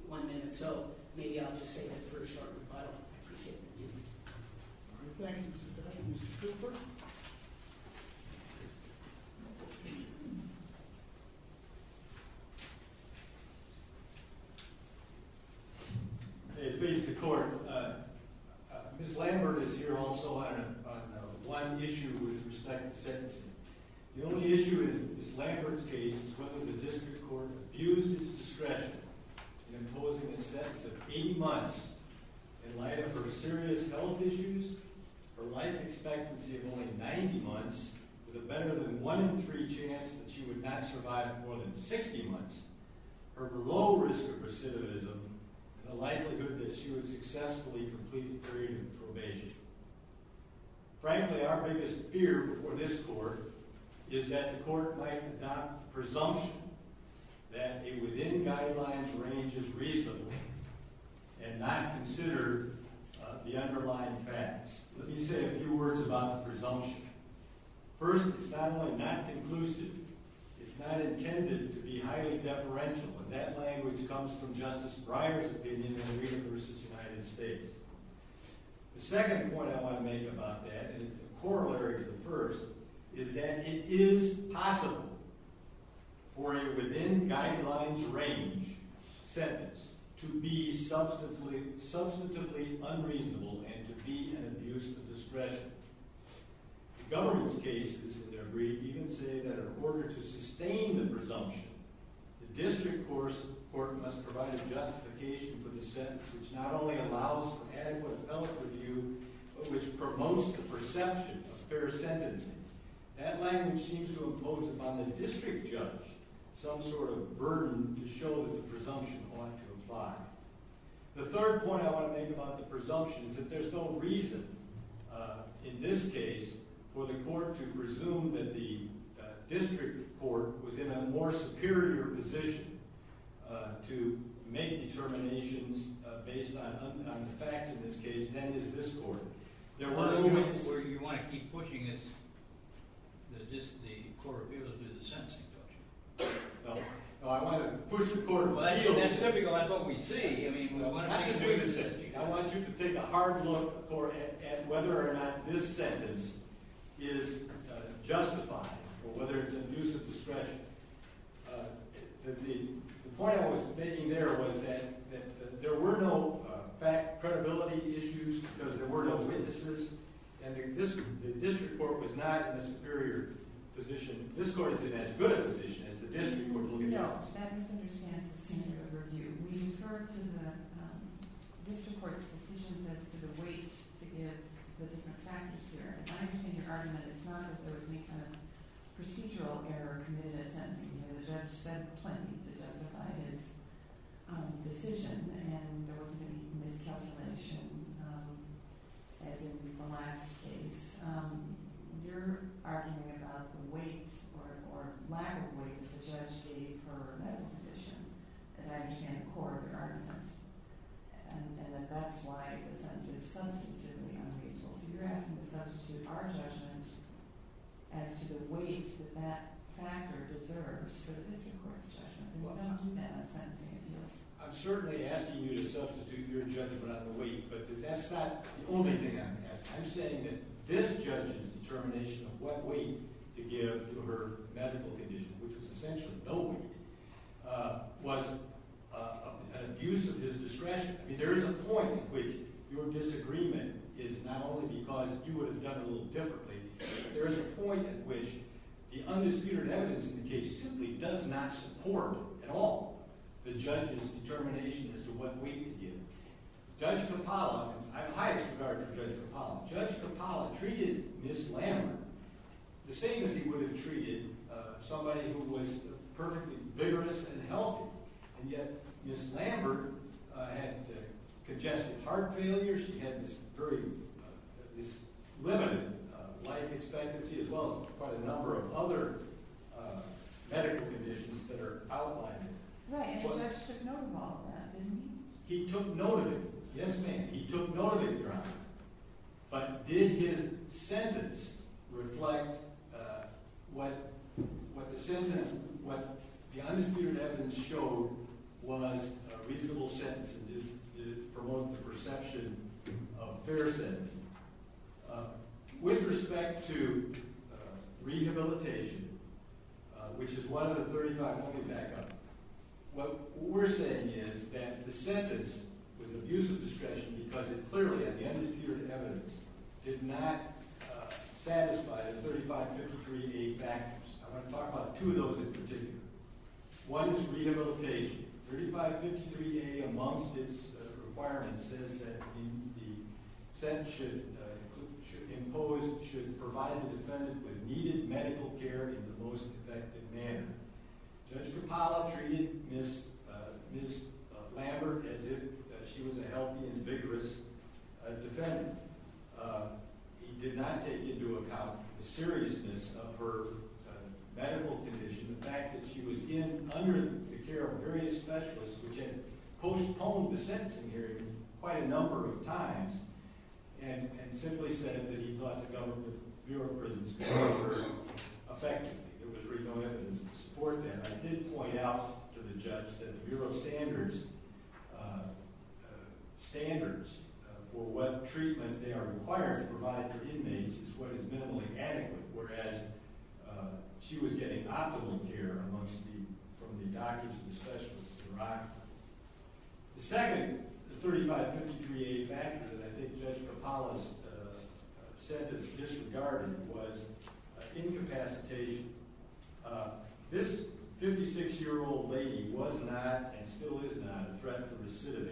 one minute. So maybe I'll just say that first. I appreciate it. Thank you, Mr. Craig. Mr. Cooper? Please, the court. Ms. Langford is here also on a blunt issue with respect to sentencing. The only issue in Ms. Langford's case is that the district court abused its discretion in imposing a sentence of eight months. In light of her serious health issues, her life expectancy of only 90 months was a better than one in three chance that she would not survive more than 60 months. Her low risk of recidivism and the likelihood that she would successfully complete the period of probation. Frankly, our biggest fear before this court is that the court might adopt a presumption that a within-guidelines range is reasonable and not consider the underlying facts. Let me say a few words about the presumption. First, it's not only not conclusive, it's not intended to be highly deferential, and that language comes from Justice Breyer's opinion of the University of the United States. The second point I want to make about that, and it's a corollary of the first, is that it is possible for a within-guidelines range sentence to be substantively unreasonable and to be an abuse of discretion. The government's cases in their brief even say that in order to sustain the presumption, the district court must provide a justification for the sentence which not only allows adequate health review, but which promotes the perception of fair sentencing. That language seems to impose upon the district judge some sort of burden to show that the presumption ought to apply. The third point I want to make about the presumption is that there's no reason, in this case, for the court to presume that the district court was in a more superior position to make determinations based on the facts, in this case, than did this court. There was no reason for it. You want to keep pushing this, the court, because it's a sentencing. I want to push the court away. That's typical. That's what we see. I want you to take a hard look at whether or not this sentence is justified, or whether it's an abuse of discretion. The point I was making there was that there were no fact-credibility issues because there were no witnesses, and the district court was not in a superior position. This court is in as good a position as the district court, believe it or not. Yeah, that makes sense in your review. Historically, the district court's position that the weight is the facts. I'm just going to argue that it's none of the procedural error committed, and the judge said plenty to justify this decision, and there was a definition that didn't rely on the state. You're arguing that the weight or lack of weight is just a former medical condition, and I understand the core of your argument, and that's why it's substantive. You're asking if that's to our judgments and to the weight that that factor deserves for the district court's judgment. How do you balance that? I'm certainly asking you to substitute your judgment on the weight, but that's not the only thing I'm asking. I'm saying that this judgment's determination of what weight to give for her medical condition, which is essentially no weight, was abusive. There is a point at which your disagreement is not only because you would have done it a little differently, but there is a point at which the undisputed evidence in the case simply does not support at all the judge's determination as to what weight to give. Judge Capallo, I have the highest regard for Judge Capallo, Judge Capallo treated Ms. Lambert the same as he would have treated somebody who was perfectly vigorous and healthy, and yet Ms. Lambert had congestive heart failure. She had this very limited life expectancy as well as quite a number of other medical conditions that are outlined. Right, and the judge took note of all of that, didn't he? He took note of it, right. But did his sentence reflect what the undisputed evidence showed was a reasonable sentence, and did it promote the perception of a fair sentence? With respect to rehabilitation, which is one of the 35 looking back on it, what we're saying is that the sentence with abusive discretion because it clearly had the undisputed evidence did not satisfy the 3553A factors. I'm going to talk about two of those in particular. One is rehabilitation. 3553A, amongst its requirements, says that the sentence should impose, should provide the defendant with needed medical care in the most effective manner. Judge Rapallo treated Ms. Lambert as if she was a healthy and vigorous defendant. He did not take into account the seriousness of her medical condition, the fact that she was in under the care of various specialists, which had postponed the sentencing hearing quite a number of times, and simply said that he thought the government, the Bureau of Prisons, could not refer her effectively. It was regarded as insupportant. I did point out to the judge that the Bureau's standards for what treatment they are required to provide their inmates is what is minimally adequate, whereas she was getting optimal care from the doctors and specialists to provide. The second 3553A factor that I think Judge Rapallo's sentence disregarded was incapacitation. This 56-year-old lady was not, and still is not, a threat to the city.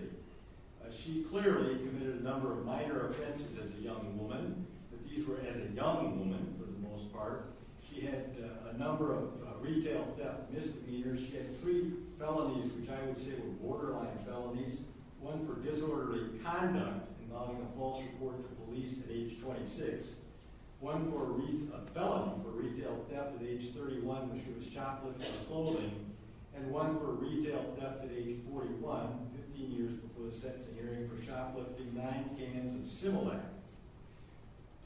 She clearly committed a number of minor offenses as a young woman, but these were as a young woman for the most part. She had a number of retail theft misdemeanors. She had three felonies, which I would say were borderline felonies, one for disorderly conduct involving a false report to police at age 26, one for a felony for retail theft at age 31, which was shoplifting and solding, and one for retail theft at age 41, 15 years before the sentencing hearing for shoplifting. Nine came in similar.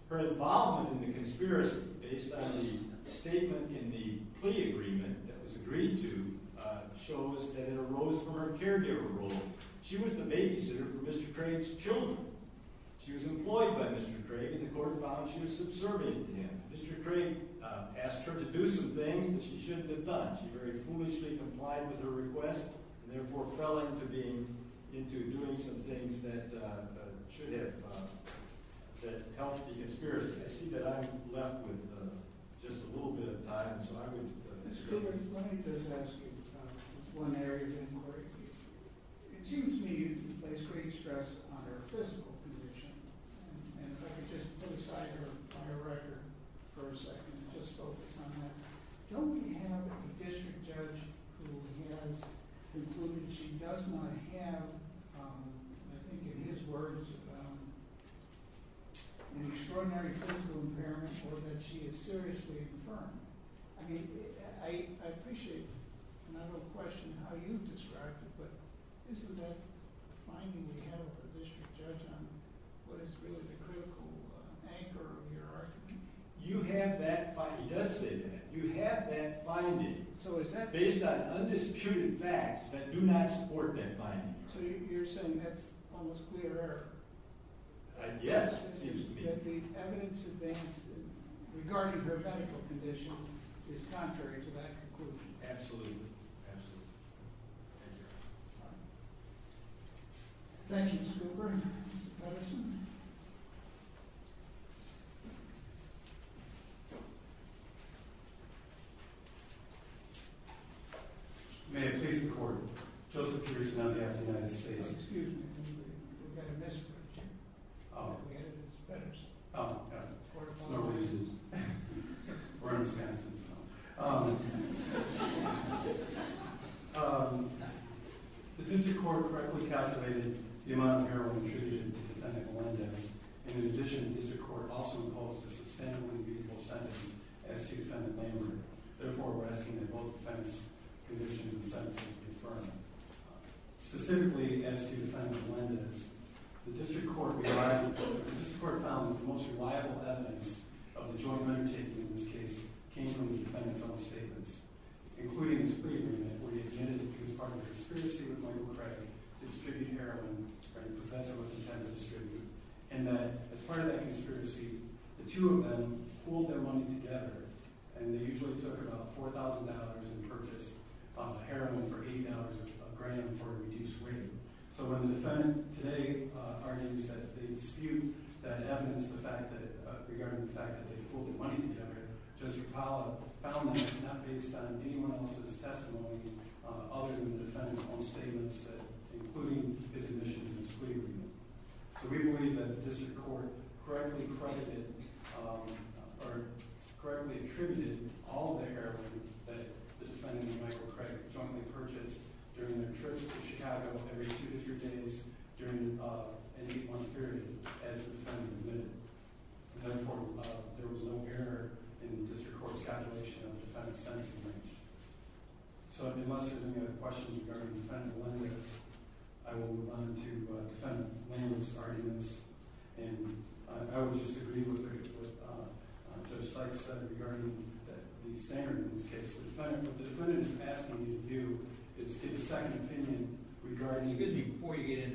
Her involvement in the conspiracy, based on the statement in the plea agreement that was agreed to, shows that it arose from her caregiver role. She was the babysitter for Mr. Craig's children. She was employed by Mr. Craig, and the court found she was subservient to him. Mr. Craig asked her to do some things, which she shouldn't have done. She very foolishly complied with her request, and therefore fell into doing some things that should have helped the conspiracy. I see that I'm left with just a little bit of time, so I would— Let me just ask you one area of inquiry. It seems to me that Ms. Craig stressed on her physical condition, and if I could just put aside her record for a second and just focus on that. Don't we have a district judge who has concluded she does not have, I think in his words, extraordinary physical impairments for which she is seriously confirmed? I mean, I appreciate the question of how you describe it, but this is a finding to have a district judge on what is really a critical anchor in your argument. You have that— He does say that. You have that finding. So is that— Based on undisputed facts that do not support that finding. So you're saying that's almost clear to her? I guess it seems to me. That the evidence against her, regarding her medical condition, is contrary to that conclusion. Absolutely. Absolutely. Thank you. Thank you, Mr. Gilbert. Any other questions? May it please the Court. Joseph Petersen, on behalf of the United States. Excuse me. Yes. Oh. Oh, got it. No reasons. We're in Wisconsin, so. Um. Um. Um. Um. The district court correctly calculated the amount of heroin treated in defendant's land names. In addition, the district court also invoked a sustainably beautiful sentence as to defendant's land name. Therefore, we're asking that both defendants condition in the sentence be confirmed. Specifically, as to defendant's land names, the district court found that the most reliable evidence of the drug undertaking in this case came from the defendant's own statements, including the statement that we admitted to be part of a conspiracy with Michael Craig, to distribute heroin, as the professor was intended to say. And that, as part of that conspiracy, the two of them pooled their money together, and they usually served about $4,000 in purchase of heroin for $8 a gram for reduced weighting. So when the defendant today argues that they dispute that evidence, in addition to that, regarding the fact that they pooled the money together, the district court found that this was not based on anyone else's testimony, other than the defendant's own statements, including the definition that we admitted. So we believe that the district court correctly credited, or correctly attributed, all the heroin that the defendant and Michael Craig jointly purchased during their trip to Chicago every two to three days during an eight-month period, as the defendant admitted. Therefore, there was no error in the district court's calculation of defendant's testimony. So if you must, if you have questions regarding the defendant's land names, I will move on to the defendant's land names arguments, and I would just agree with what Judge Seif said regarding the standard in this case. The defendant is asking you to do is get a second opinion regarding Before you get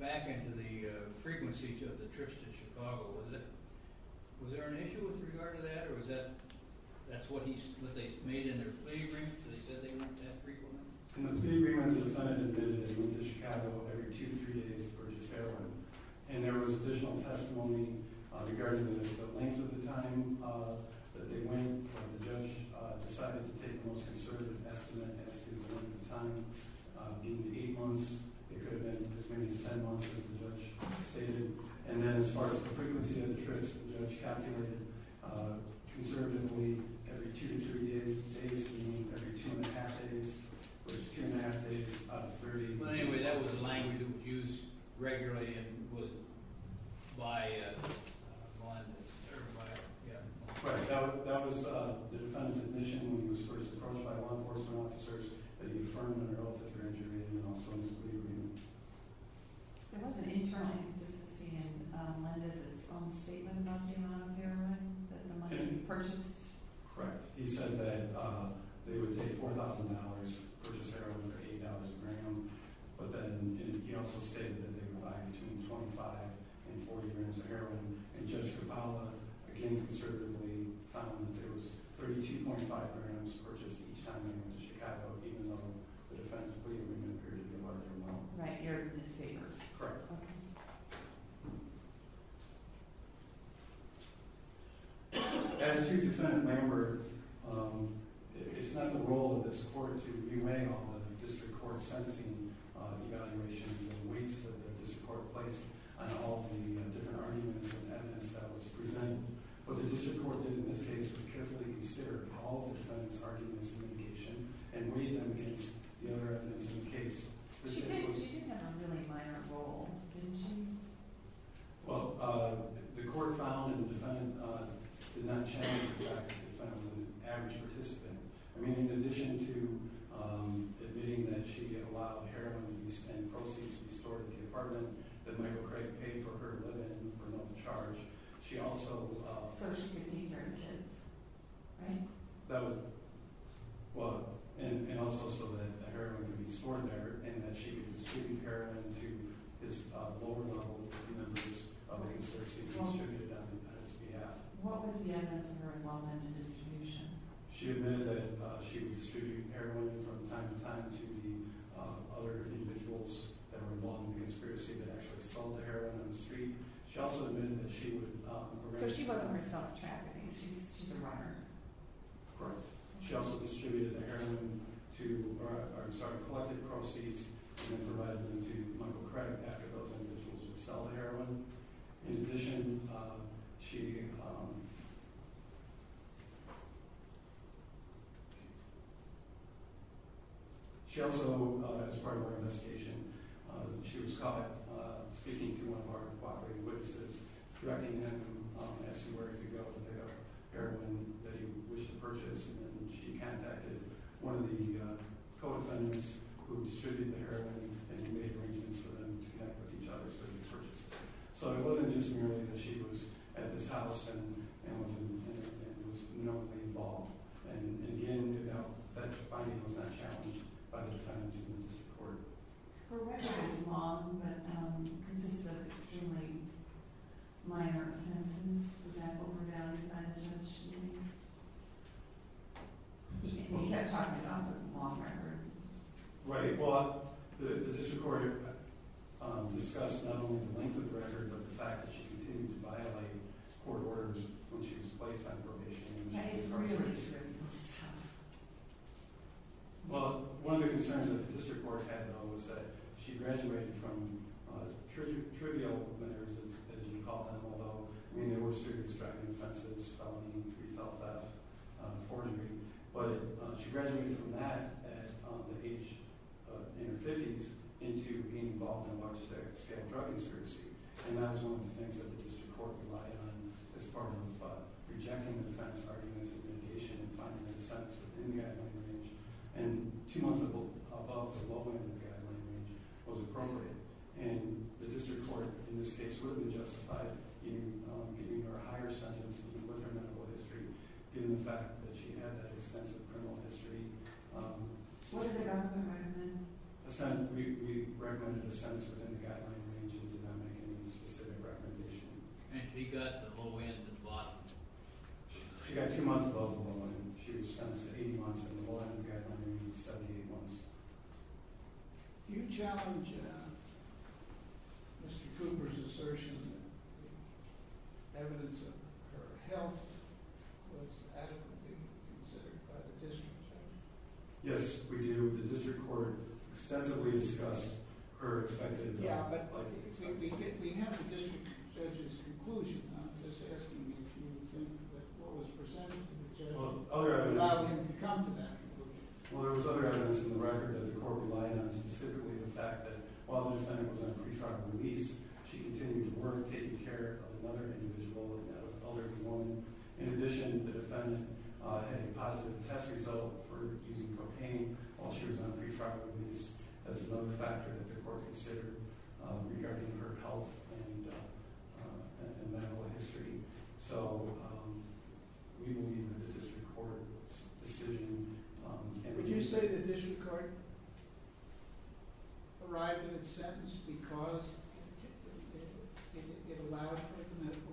back into the frequency of the trips to Chicago, was there an issue with regard to that? Or was that what they made in their plea brief? They said they weren't that frequent? In the plea brief, the defendant admitted that they went to Chicago every two to three days to purchase heroin, and there was additional testimony regarding this. But once at the time that they went, the judge decided to take the most conservative testimony that they had at the time. In the eight months, the defendant was going to be sent on to the judge. And then as far as the frequency of the trips, the judge calculated conservatively every two to three days, basically every two and a half days, versus two and a half days, about a third of the time. Anyway, that was a language that was used regularly and was by a bond or by a debtor. That was the defendant's admission when he was first approached by law enforcement officers that he affirmed the relationship between him and also his plea brief. There was an interest in a letter from the statement about the amount of heroin that the money purchased. Correct. He said that they would take $4,000 to purchase heroin for $8,000 per annum. But then he also stated that they were buying between $25,000 and $40,000 per heroin. And just about, again, conservatively, found that there was $13.5 million that was purchased each time he was in Chicago, even though the defendant believed that he had been there more than once. Right here in the statement. Correct. As a 2% member, it's not the role of the supporters that you hang on with in district court sentencing evaluations and ways that they can support a place. I don't know if any of you have different arguments for the evidence that I was presenting, but the district court did in this case specifically consider all the defendant's arguments in the case, and re-sentenced the other evidence in the case. Did you see that preliminary letter at all in the statement? Well, the court found that the defendant did not show any reflections that he was an average participant. I mean, in addition to admitting that she had allowed heroin to be sent, processed, and stored in the apartment, that the medical credit paid for her, but didn't promote the charge, she also allowed first aid services. Right. Right. Well, and also so that heroin could be stored in her, and that she could distribute heroin to this vulnerable group of members of a 16-year-old student on the defendant's behalf. What was the evidence of her involvement in education? She admitted that she was distributing heroin from time to time to the other individuals that were involved in the conspiracy that actually controlled heroin on the street. She also admitted that she would – She put up her cell check, didn't she, Mr. Parker? Correct. She also distributed heroin to – or, I'm sorry, collected proceeds and then provided them to the clinical credit after those individuals had sold heroin. In addition, she – She also, as part of her investigation, she was caught getting into an apartment block where he lived, threatening him as to where he could go with her heroin that he wished to purchase, and she contacted one of the co-offenders who distributed the heroin, and he made arrangements for them to connect with each other so he could purchase it. So it wasn't just merely that she was at this house and was doing things like that. She was normally involved. And again, without finding out that challenge, other defendants didn't support it. For what kind of involvement? Was that particularly minor, for instance? Was that what were noted as mentioning? You can't talk about law forever. Right. Well, the district court discussed, not only the length of the record, but the fact that she continued to violate court orders when she was a lifetime probationary. Well, one of the concerns that the district court had, though, was that she graduated from a trivial clinic, as you call them, although many of those students got an offensive felony to resolve that accordingly. But she graduated from that at the age of 15 into being involved in a state drug insurancy. And that was one of the things that the district court relied on as part of rejecting the trans-arguments of litigation and finding a sentence within the academic range. And two months above what would have been the academic range was a crime rate. And the district court, in this case, certainly justified in giving her a higher sentence given the fact that she had an extensive criminal history. What is the academic range? We recommended a sentence within the academic range and did not make any specific recommendation. And we got the whole way to the bottom. She got two months above the minimum. She was sentenced to eight months, and the academic range was 78 months. Do you challenge that? Mr. Cooper's assertion... ...her health was... Yes, we do. The district court extensively discussed her... Yeah, but we have a district judge's conclusion. Other evidence... There was other evidence in the record that the court relied on specifically the fact that while the sentence was on pre-trial release, she continued to work, taking care of another individual and another woman. In addition, the defendant had a positive test result for using cocaine while she was on pre-trial release. That is another factor that the court considered regarding her health and medical history. So we believe that the district court decision... And would you say that this is correct? ...arrived in the sentence because it allowed for the medical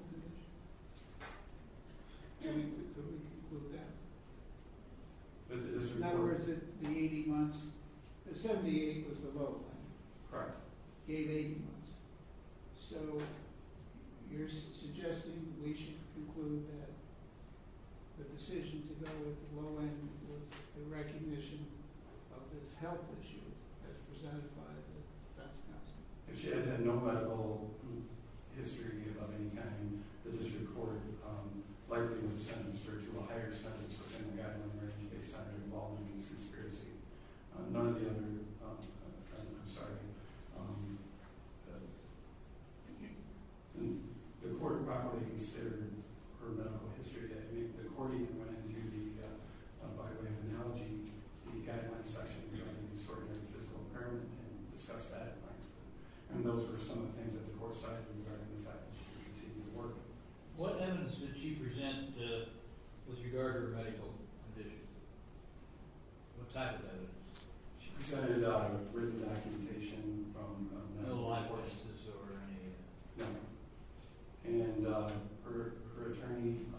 condition. And we believe that... But the district court... The number is in the 80 months. The 78 was the low end. All right. Eight 80 months. So you're suggesting we should conclude that the decision to go with the low end was the recognition of this health issue as presented by the defense counsel? She had no medical history of any kind. The district court, largely, in the sentence referred to a higher sentence in regard to an emergency case that involved an incident of pregnancy. None of the other... I'm sorry. The court, by all means, considered her medical history according to the... What evidence did she present with regard to her medical condition? What type of evidence? She presented a written documentation from a mental health crisis over a period of time. And her attorney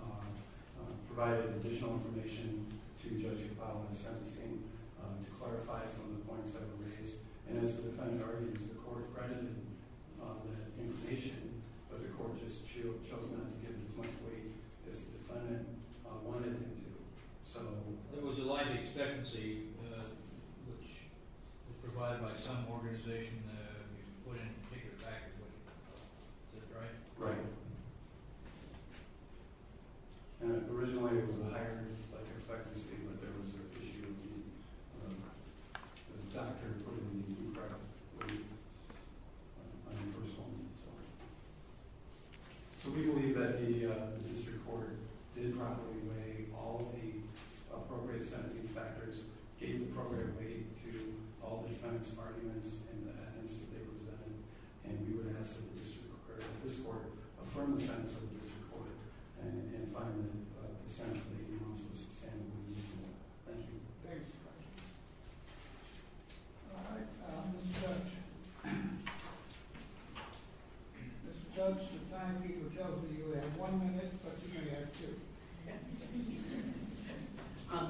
provided additional information to the judge about the sentencing to clarify some of the points that were raised. And as the defendant argued, is the court present with an indication that the court has chosen not to give this much weight that the defendant wanted them to? So, there was a lot of expectancy which was provided by some organization that would indicate the fact of it. Is that right? Right. Originally, it was a higher expectancy, but there was an issue of the... So, we believe that the district court did properly weigh all the appropriate sentencing factors, gave the appropriate weight to all the defense arguments and the evidence that they presented, and we would ask that the district court, this court, affirm the sentence of the district court and find the sentence to be announced and the district court. Thank you. Thank you, Judge. All right, Mr. Judge. Mr. Judge, it's time for you to tell us if you have one or two questions. Okay.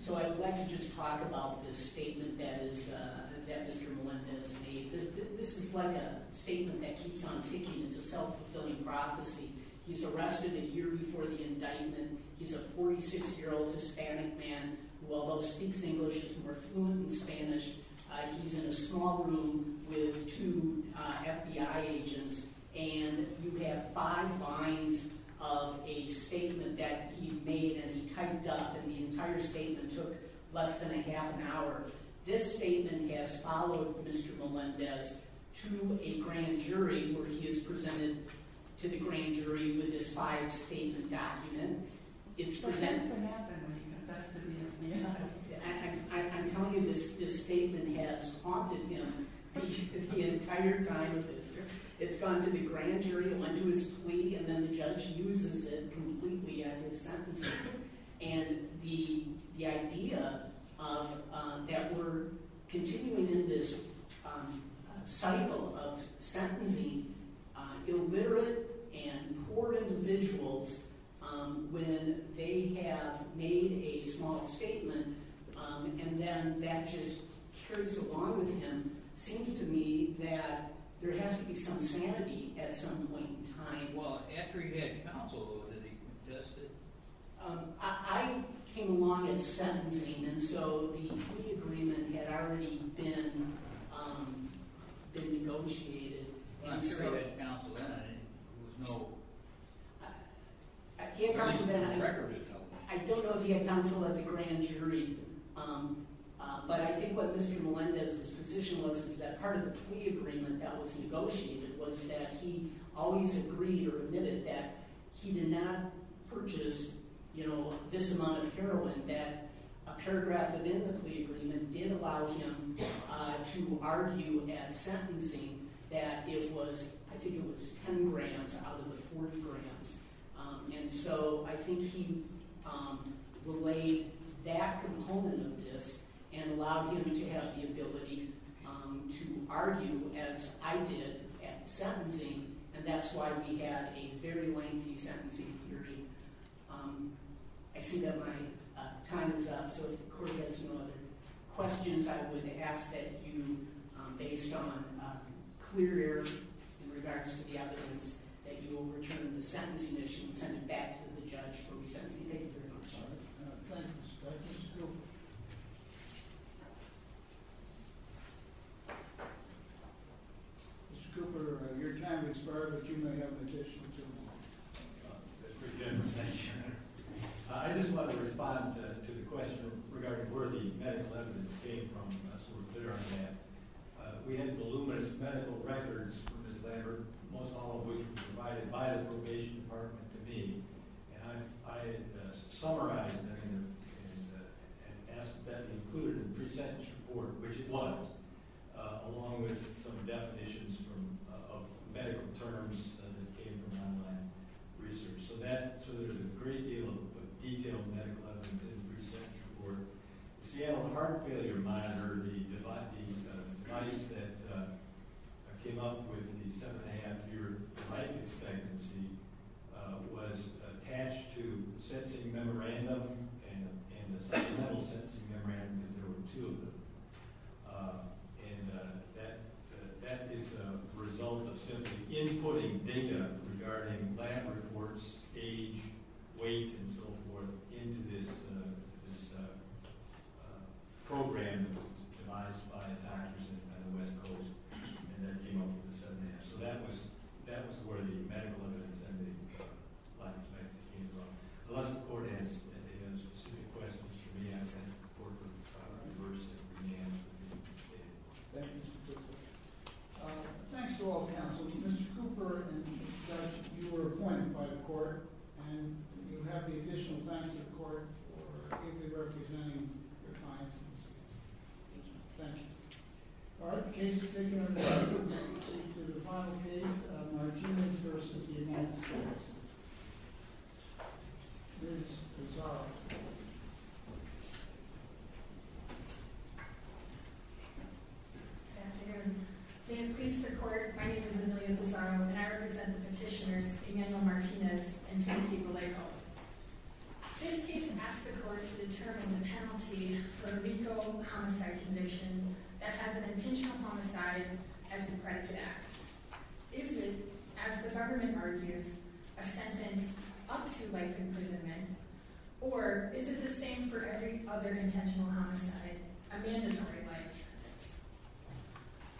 So, I'd like to just talk about the statement that Mr. Melendez made. This is quite a statement that keeps on pitching as a self-fulfilling prophecy. He's arrested a year before the indictment. He's a 46-year-old Hispanic man who, although speaks English, is marooned in Spanish. He's in a small room with two FBI agents, and you have five lines of a statement that he made, and he typed up, and the entire statement took less than a half an hour. This statement has followed Mr. Melendez to a grand jury, where he is presented to the grand jury with this five-statement document. I'm telling you this, this statement has haunted him. He took the entire time that's gone to the grand jury, went to his plea, and then the judge uses it completely as his sentencing. And the idea that we're continuing in this cycle of sentencing illiterate and poor individuals when they have made a small statement, and then that just carries along with him, seems to me that there has to be some sanity at some point in time. Well, after he had counsel, did he contest it? I came along at the sentencing, and so the complete agreement had already been negotiated. But I'm sure he had counsel then, and there was no record of that. I think he had counsel at the grand jury, but I think what Mr. Melendez's position was is that part of the plea agreement that was negotiated was that he always agreed or admitted that he did not purchase this amount of heroin, that a paragraph of his plea agreement did allow him to argue at sentencing that it was, I think it was, 10 grand out of the 40 grand. And so I think he relayed that component of this and allowed him to have the ability to argue as I did at sentencing, and that's why he had a very lengthy sentencing period. I see that my time is up, so if the court has no other questions, I would ask that you, based on a clear error in regards to gatherings, that you will return the sentencing issue and send it back to the judge from 17 April. Thank you. Thank you, Mr. Cooper. Mr. Cooper, your time has started, but you may have a petition. I just want to respond to the question regarding where the medical evidence came from, so I'm clear on that. We had voluminous medical records from this letter, most of which was provided by the probation department committee, and I had summarized them and asked that they included the pre-sentence report, which it was, along with some definitions of medical terms that came from online research, so there's a great deal of detail in that pre-sentence report. The Seattle Heart Failure Minority studies that came up with the seven-and-a-half-year life expectancy was attached to the sentencing memorandum and the second level sentencing memorandum, and there were two of them, and that is a result of simply inputting data regarding background reports, age, weight, and so forth into this program that was devised by a patient on the West Coast and then came up with the seven-and-a-half. So that was where the medical evidence and the life expectancy came from. Unless the court answered any of those specific questions, you may not get the report that the court is demanding from you today. Thank you. Thanks to all the counselors. Mr. Cooper and Mr. Stratton, you were appointed by the court, and you have the additional time to report or give me an opportunity if I need to. Thank you. All right. The case is currently under review. We'll proceed to the final case, Martinez v. Daniel Martinez. Ms. Lozada. Good afternoon. In brief report, my name is Amelia Lozada, and I represent the petitioner Daniel Martinez and Tracy Bileo. This case asks the court to determine the penalties for lethal homicide convictions that have intentional homicide as a private act. Is this, as the government argues, a sentence up to life imprisonment, or is it the same for every other intentional homicide, a mandatory life?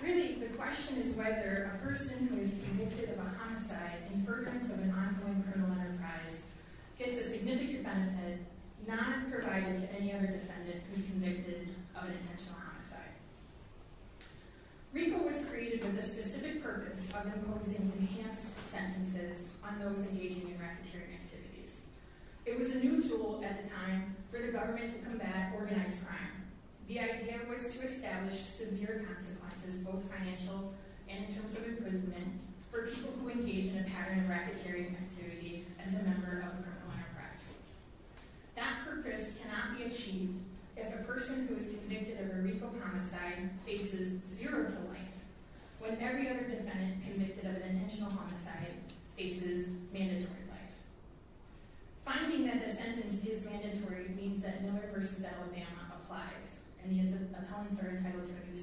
Really, the question is whether a person who is convicted of a homicide in purpose of an ongoing criminal enterprise gets a significant sentence not provided to any other defendant who is convicted of an intentional homicide. Report was created with a specific purpose of imposing three sentences on those engaging in racketeering activities. It was a new tool at the time for the government to combat organized crime. The idea was to establish severe consequences, both financial and in terms of imprisonment, for people who engage in a pattern of racketeering activity as a member of a criminal enterprise. That purpose cannot be achieved if a person who is convicted of a lethal homicide faces zero life, when every other defendant convicted of an intentional homicide faces mandatory life. Finding that the defendant is mandatory means that Miller v. Alabama applies, and he is a felon charged by the Kentucky Penitentiary.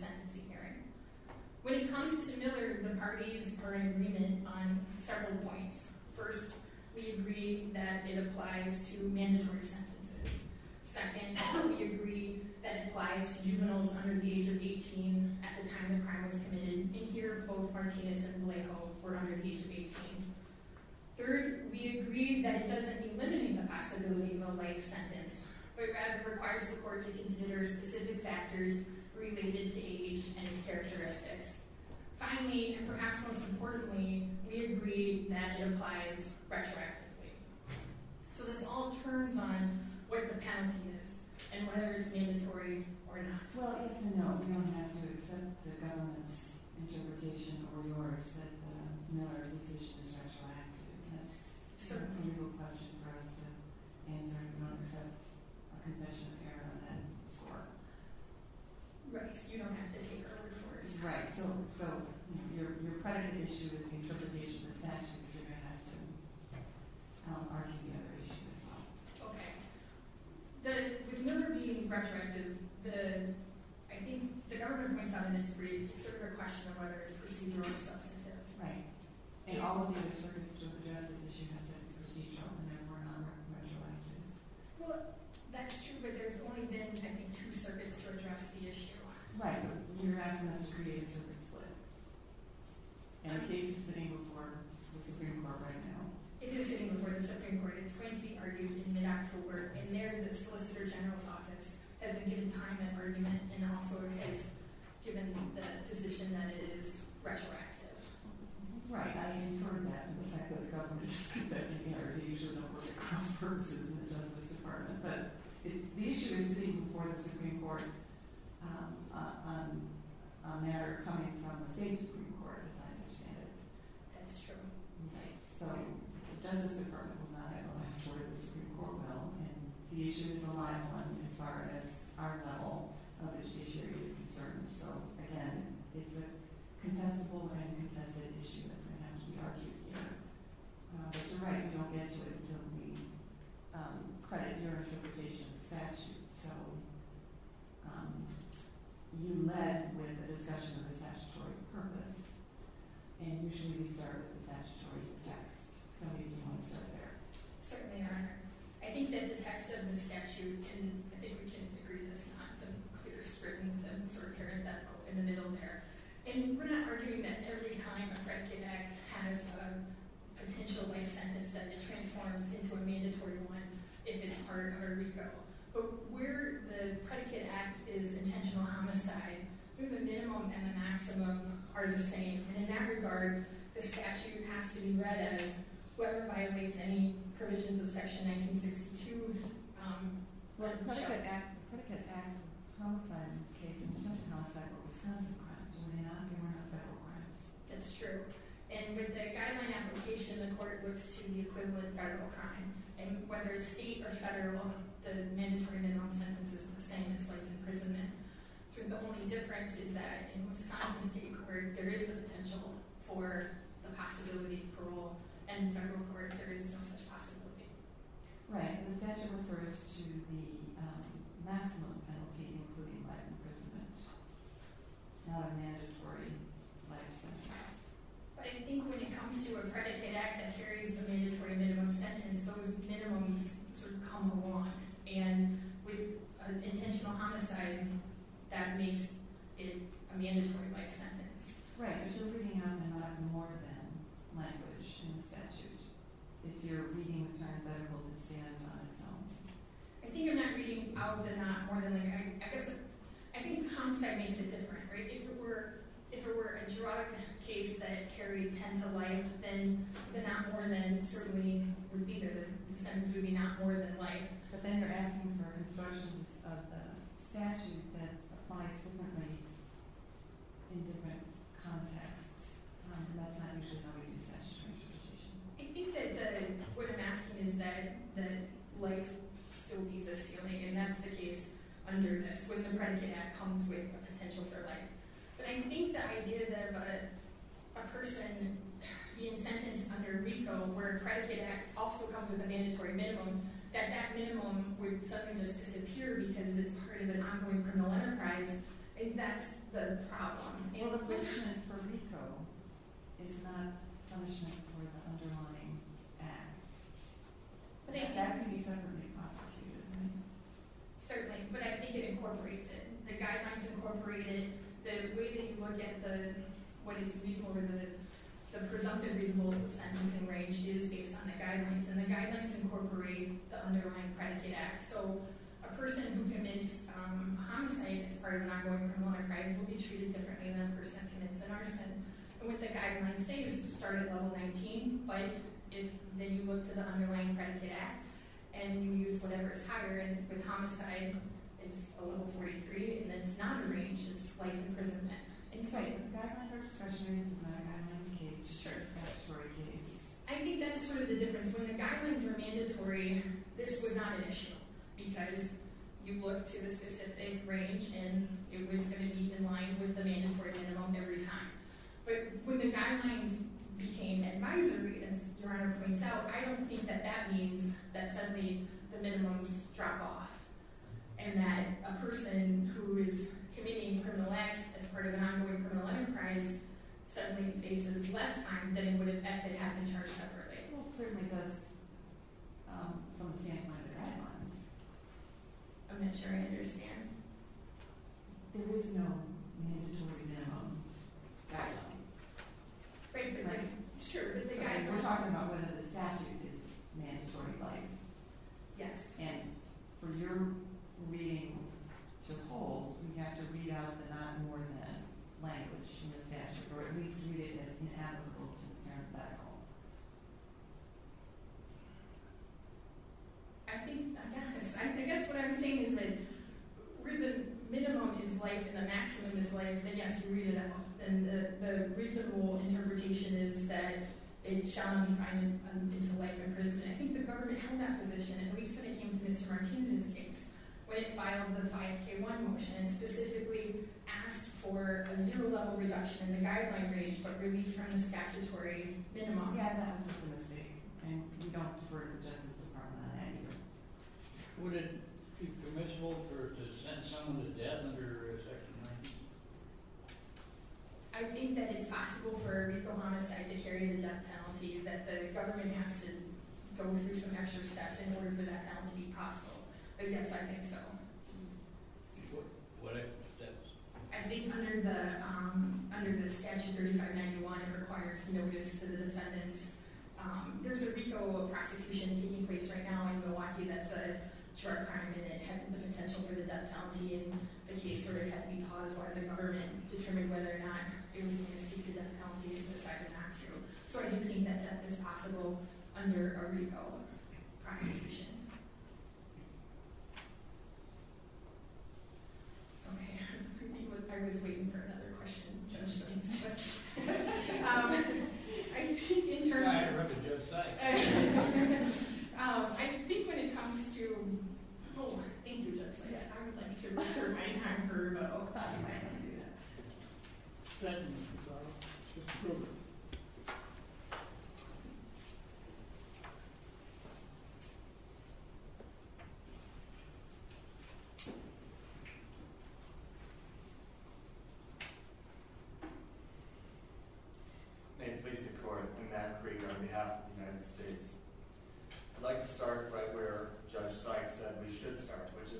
When it comes to Miller v. McCartney, we are in agreement on several points. First, we agree that it applies to mandatory sentences. Second, we agree that it applies to juveniles under the age of 18 at the time the crime was committed, and here, both Martinez and Leico were under the age of 18. Third, we agree that it doesn't mean limiting the possibility of a life sentence, but it requires the court to consider specific factors related to age and characteristics. Finally, and perhaps most importantly, we agree that it applies to special activities. So this all turns on where the penalty is, and whether it's mandatory or not. Right, you don't have to take over the court. Right, so you're fighting the issue of the interpretation of that, so you're going to have to come up with the other issues as well. Okay. The number of being incarcerated is the... I think the number of being incarcerated is sort of a question of whether it's procedural or substantive. Right. Well, that's true, but there's only been two circuits to address the issue. Right. It is getting reported, so it's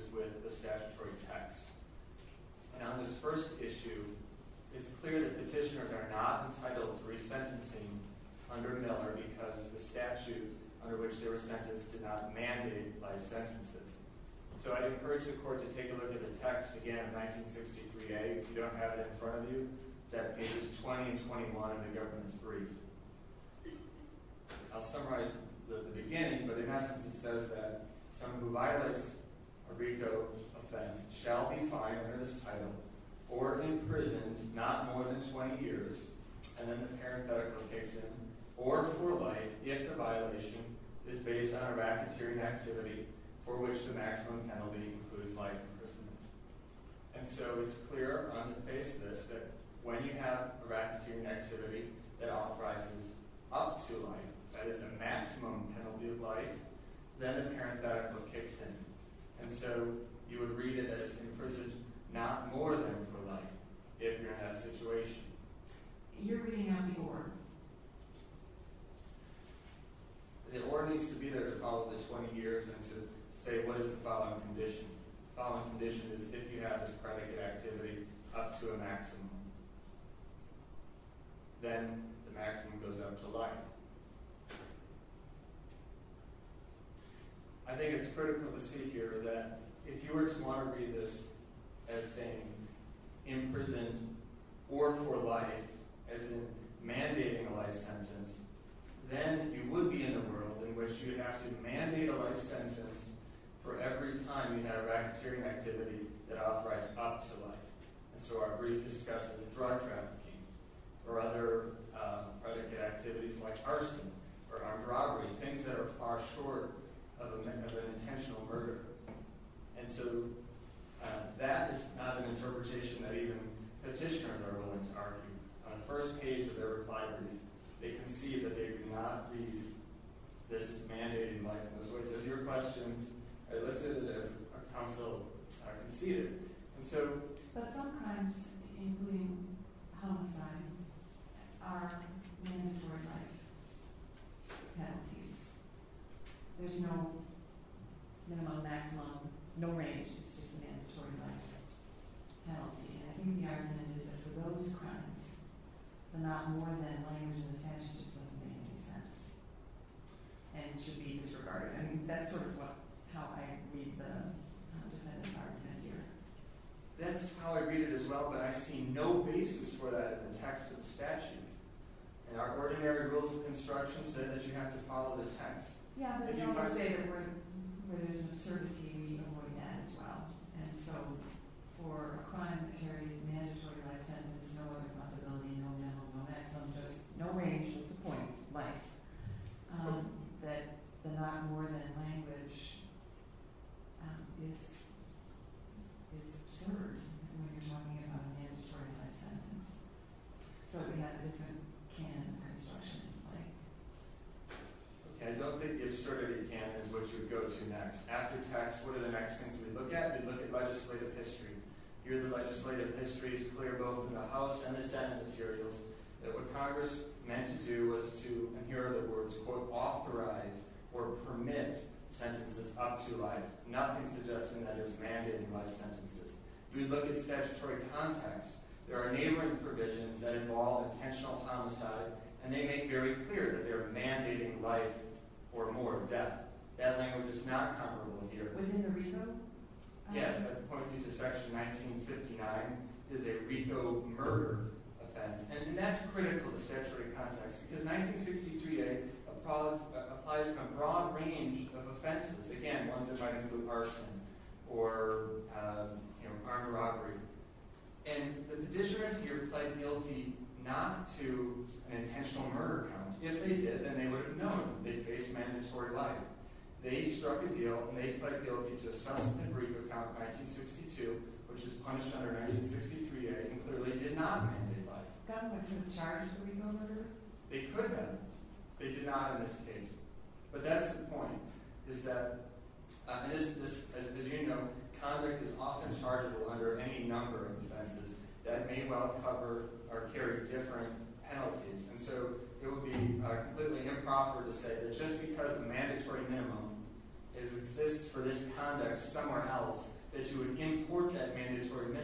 being reported. Right. Right. That's true. Okay. Right. Right. Right. Right. Right. Right. Right. Right. Right. Right. All right, but. It's a problem in warm. So it's a. And they can't have a particular reason. Okay, but I need to incorporate it. Incorporated. The way that you look at the. The presumptive. Is based on the guidelines. And the guidelines incorporate the underlying. So a person. With the guidelines. They started. But if you look at the underlying. And you use whatever is higher. Okay, you can. Okay. I didn't the difference when they got them mandatory. Because you got it. And range in. Why is. It. With the guy. That means. That the. Drop off. And that. A person.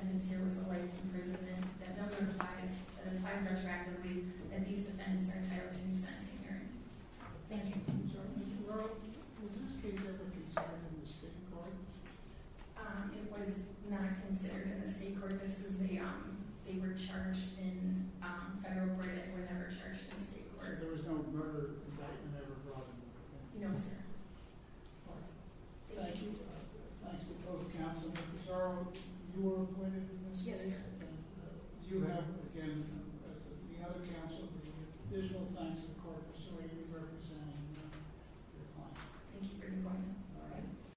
Who is. Committing criminal acts. As part of an ongoing. Crimes. That we. Did. Last time. As they happen. To recover. Okay. I'm not sure. I understand. It is. No. Sure. The guy. We're talking about. The statute. Yes. And. For. Your. Reading. The whole. Language. Yes. For. A week. You didn't. Have. Medical. I think. I guess. What I'm saying. Is that. The minimum. Is late. And the maximum. Is late. And you have to read. It out. And the. The reasonable. Interpretation. Is that. It's. Okay. I'm. I think. The. Has a vision. And we. See. When it files a. K. One. Motion specifically. Asked for. A level. Regression. In. Language. But we're. Coming back. To story. And we. Don't. Word. Would it. Do. What. And some of. The death. Other. Everything. He. Too early I can't. Do what. Wondered about the world. I mean. No you. Haven'tges. We have. This. And. The reality. Here. A. We have no. Is going to happen it is a good thing that all undergone preparation. I'm sure we do. I see. everything. you. So I encourage the court to take a look at the text, again, in 1953A, if you don't have it in front of you, that's pages 20 and 21 of the government's brief. I'll summarize the beginning, so the message says that, someone who violates a RICO's offense shall be fined under this title, or imprisoned not more than 20 years, and in the parenthetical case, or for life, if the violation is based on a racketeering activity for which the maximum penalty includes life imprisonment. And so it's clear on the basis that when you have a racketeering activity that authorizes up to life, that is a maximum penalty of life, then in the parenthetical case, and so you would read it as imprisoned not more than for life, if you're in that situation. Can you repeat that one more time? It already needs to be there for at least 20 years to say what is the following condition. The following condition is if you have this racketeering activity up to a maximum, then the maximum goes down to life. I think it's critical to see here that if you were to want to read this as saying imprisoned or for life, as in mandating a life sentence, then you would be in a world in which you would have to mandate a life sentence for every time you have a racketeering activity that authorizes up to life. And so I've already discussed the drug trafficking, or other activities like arson, or drug robbery, things that are far short of an intentional murder. And so that is not an interpretation that even petitioners are willing to argue. On the first page of their reply, they concede that they do not read this as mandating a life sentence. So it is your question, and it looks as if our counsel conceded. But some crimes, including homicide, are mandatory life penalties. There's no maximum. No way. It's just a mandatory life penalty. So, I think the argument is that the those crimes are not more than life sentences that are mandatory life penalties. And it should be disregarded. I mean, that's sort of how I read the part of it here. That's how I read it as well, but I see no basis for that in the text of the statute. And our ordinary rules of construction say that you have to follow the text. Yeah, but you can't say that there's a certainty even when that is not. And so, for crimes that are mandatory life sentences, there's no other possibility, no minimum, no maximum, so there's no range to the point of life. But they're not more than a language. It's a term. You were talking about the history of life sentences. So, I mean, that's a sort of canonized question, right? Okay, so I think the history of the canon is what you would go to next. After the fact, one of the next things we look at is the legislative history. Your legislative history is clear both in the House and the Senate materials that what Congress meant to do was to, in your other words, authorize or permit sentences up to life, not the possession that is mandated by sentences. You look at the statutory context. There are neighboring provisions that involve intentional homicide, and they make very clear that they're mandating life or more death. That language is not comparable here. Was it in the RICO? Yes. It points to Section 1959. It's a RICO murder offense. And that's critical to the statutory context, because 1963a applies a broad range of offenses. Again, it comes to trying to do arson or armed robbery. And the district here pled guilty not to an intentional murder offense. If they did, then they would have known. They faced mandatory life. They struck a deal, and they pled guilty to a summons and a brief account in 1962, which is punished under 1963a and clearly did not mandate life. Then wouldn't you be charged for being a murderer? They could have. They did not in this case. But that's the point, is that the genome context is often charged under any number of sentences that may well cover or carry different penalties. And so it would be completely improper to say that just because of a mandatory minimum, it exists for this context somewhere else, that you would import that mandatory minimum into this offense. There's no canon interpretation that would support that. The idea that petitioner's reading is needed to avoid an absurd result, I don't think is accurate either. And this case shows why. When you do have intentional murder in a brutal fashion, shooting a good Samaritan, as well as other predicate offenses or attempted murders, then the judge can exercise his discretion and impose a life sentence. So there's no anomaly here. And the idea that there's a need to avoid an absurd result simply is not the case. I wanted to pick up on another point that Judge Spikes made, which is that the underlying racketeering activity to which the petitioner is likely guilty was not a federal crime since it was one that the petitioner had studied. Instead, it was the Wisconsin First degree murder statute. And as she just noted in her argument, that allows the sentencing court to give life with parole. And so even under her notion that she would be incorporating the mandatory provision of the right of the predicate, then you would not be unrevealing because here the predicate, the Wisconsin law, did not mandate life without parole. It was life with parole. Now, again, there's no agency to incorporate the mandatory minimum, but it just shows that her argument is not working. In deciding this case, it occurred to the courts most clearly at Croft v. Williams. The court decided that case just very recently, and it was very analogous. Croft v. Williams involved a Illinois statute that resulted in a life sentence. And this court denied the Miller argument because the Illinois statute clearly made the life sentence discretionary. And so their court did not reach the Miller issue. The court can reach that same result here in a very straightforward fashion. More than that, if we look at the sentencing record here, very clearly the district court understood it to help them have discretion. They went through a very lengthy, 35-53 analysis that addressed each petitioner's individual circumstances, not only their age, but also the effect of their age, their immaturity, their family circumstances, the fact that they began using substances at a young age, the fact that they got involved in the Black and King Bend identities, and how all these things would result in poor judgment, immaturity. And he nonetheless decided, mainly because of the brutal nature of this crime, to impose a life sentence. And so it was an individualized assessment, which is what Miller calls for, so there's no need to remand in this instance. And again, I come to Crawford v. Williams, because to the extent that in the reply brief she's arguing that there wasn't enough of a consideration of the individualized nature, Crawford v. Williams makes clear that you don't have to impose a new Miller sort of review when you have a discretionary statute. You stop once you decide that this is not a mandatory life sentence. That's the end of the inquiry. And so in Crawford v. Williams, all that the sentencing court did was say that it considered the pre-sentence report, which articulated the defendant's age. And that was sufficient. It wasn't necessary for it to articulate lots and lots of things about the individual's offenses. In comparison here, Judge Randall considered thorough discussion of the individualized circumstances. And there's no need for the sentencing here. So the government's position is that we shouldn't address Miller? That's correct. I don't think there's any need for you to raise that issue here. That's just how the case is decided in Crawford v. Williams. I may have you address questions on the Miller reply brief issue, but again, I really don't think it's necessary. The court will be hearing argument on that on October 1st, and very soon. I think it's true that there are just two other circuits that, on the merits, have said it is procedural. So that's correct. There are a number of state platforms that are going both directions. I think there's a fair assessment of the circuit, yes. I don't think there's any need to do that in this court. You could proceed to the tribunal on the first issue. Alternatively, if you really have heartburn about it, I don't think that's necessary. Why wait? You know better than they do. There are no other questions about it. The court is adjourned. Confirm the judgment of the law. Judge Randolph is ruling on the 2255 motion, and duties bind that anyone else understood that he had discretion when he imposed the life sentence. Therefore, this hearing is adjourned. Thank you very much. Thank you. Thank you. Thank you. Thank you. There was no murder in fact. There was no murder in fact. Yes sir. Thank you. Thank you. Yes sir. Yes sir. Yes sir. Yes sir. Yes sir.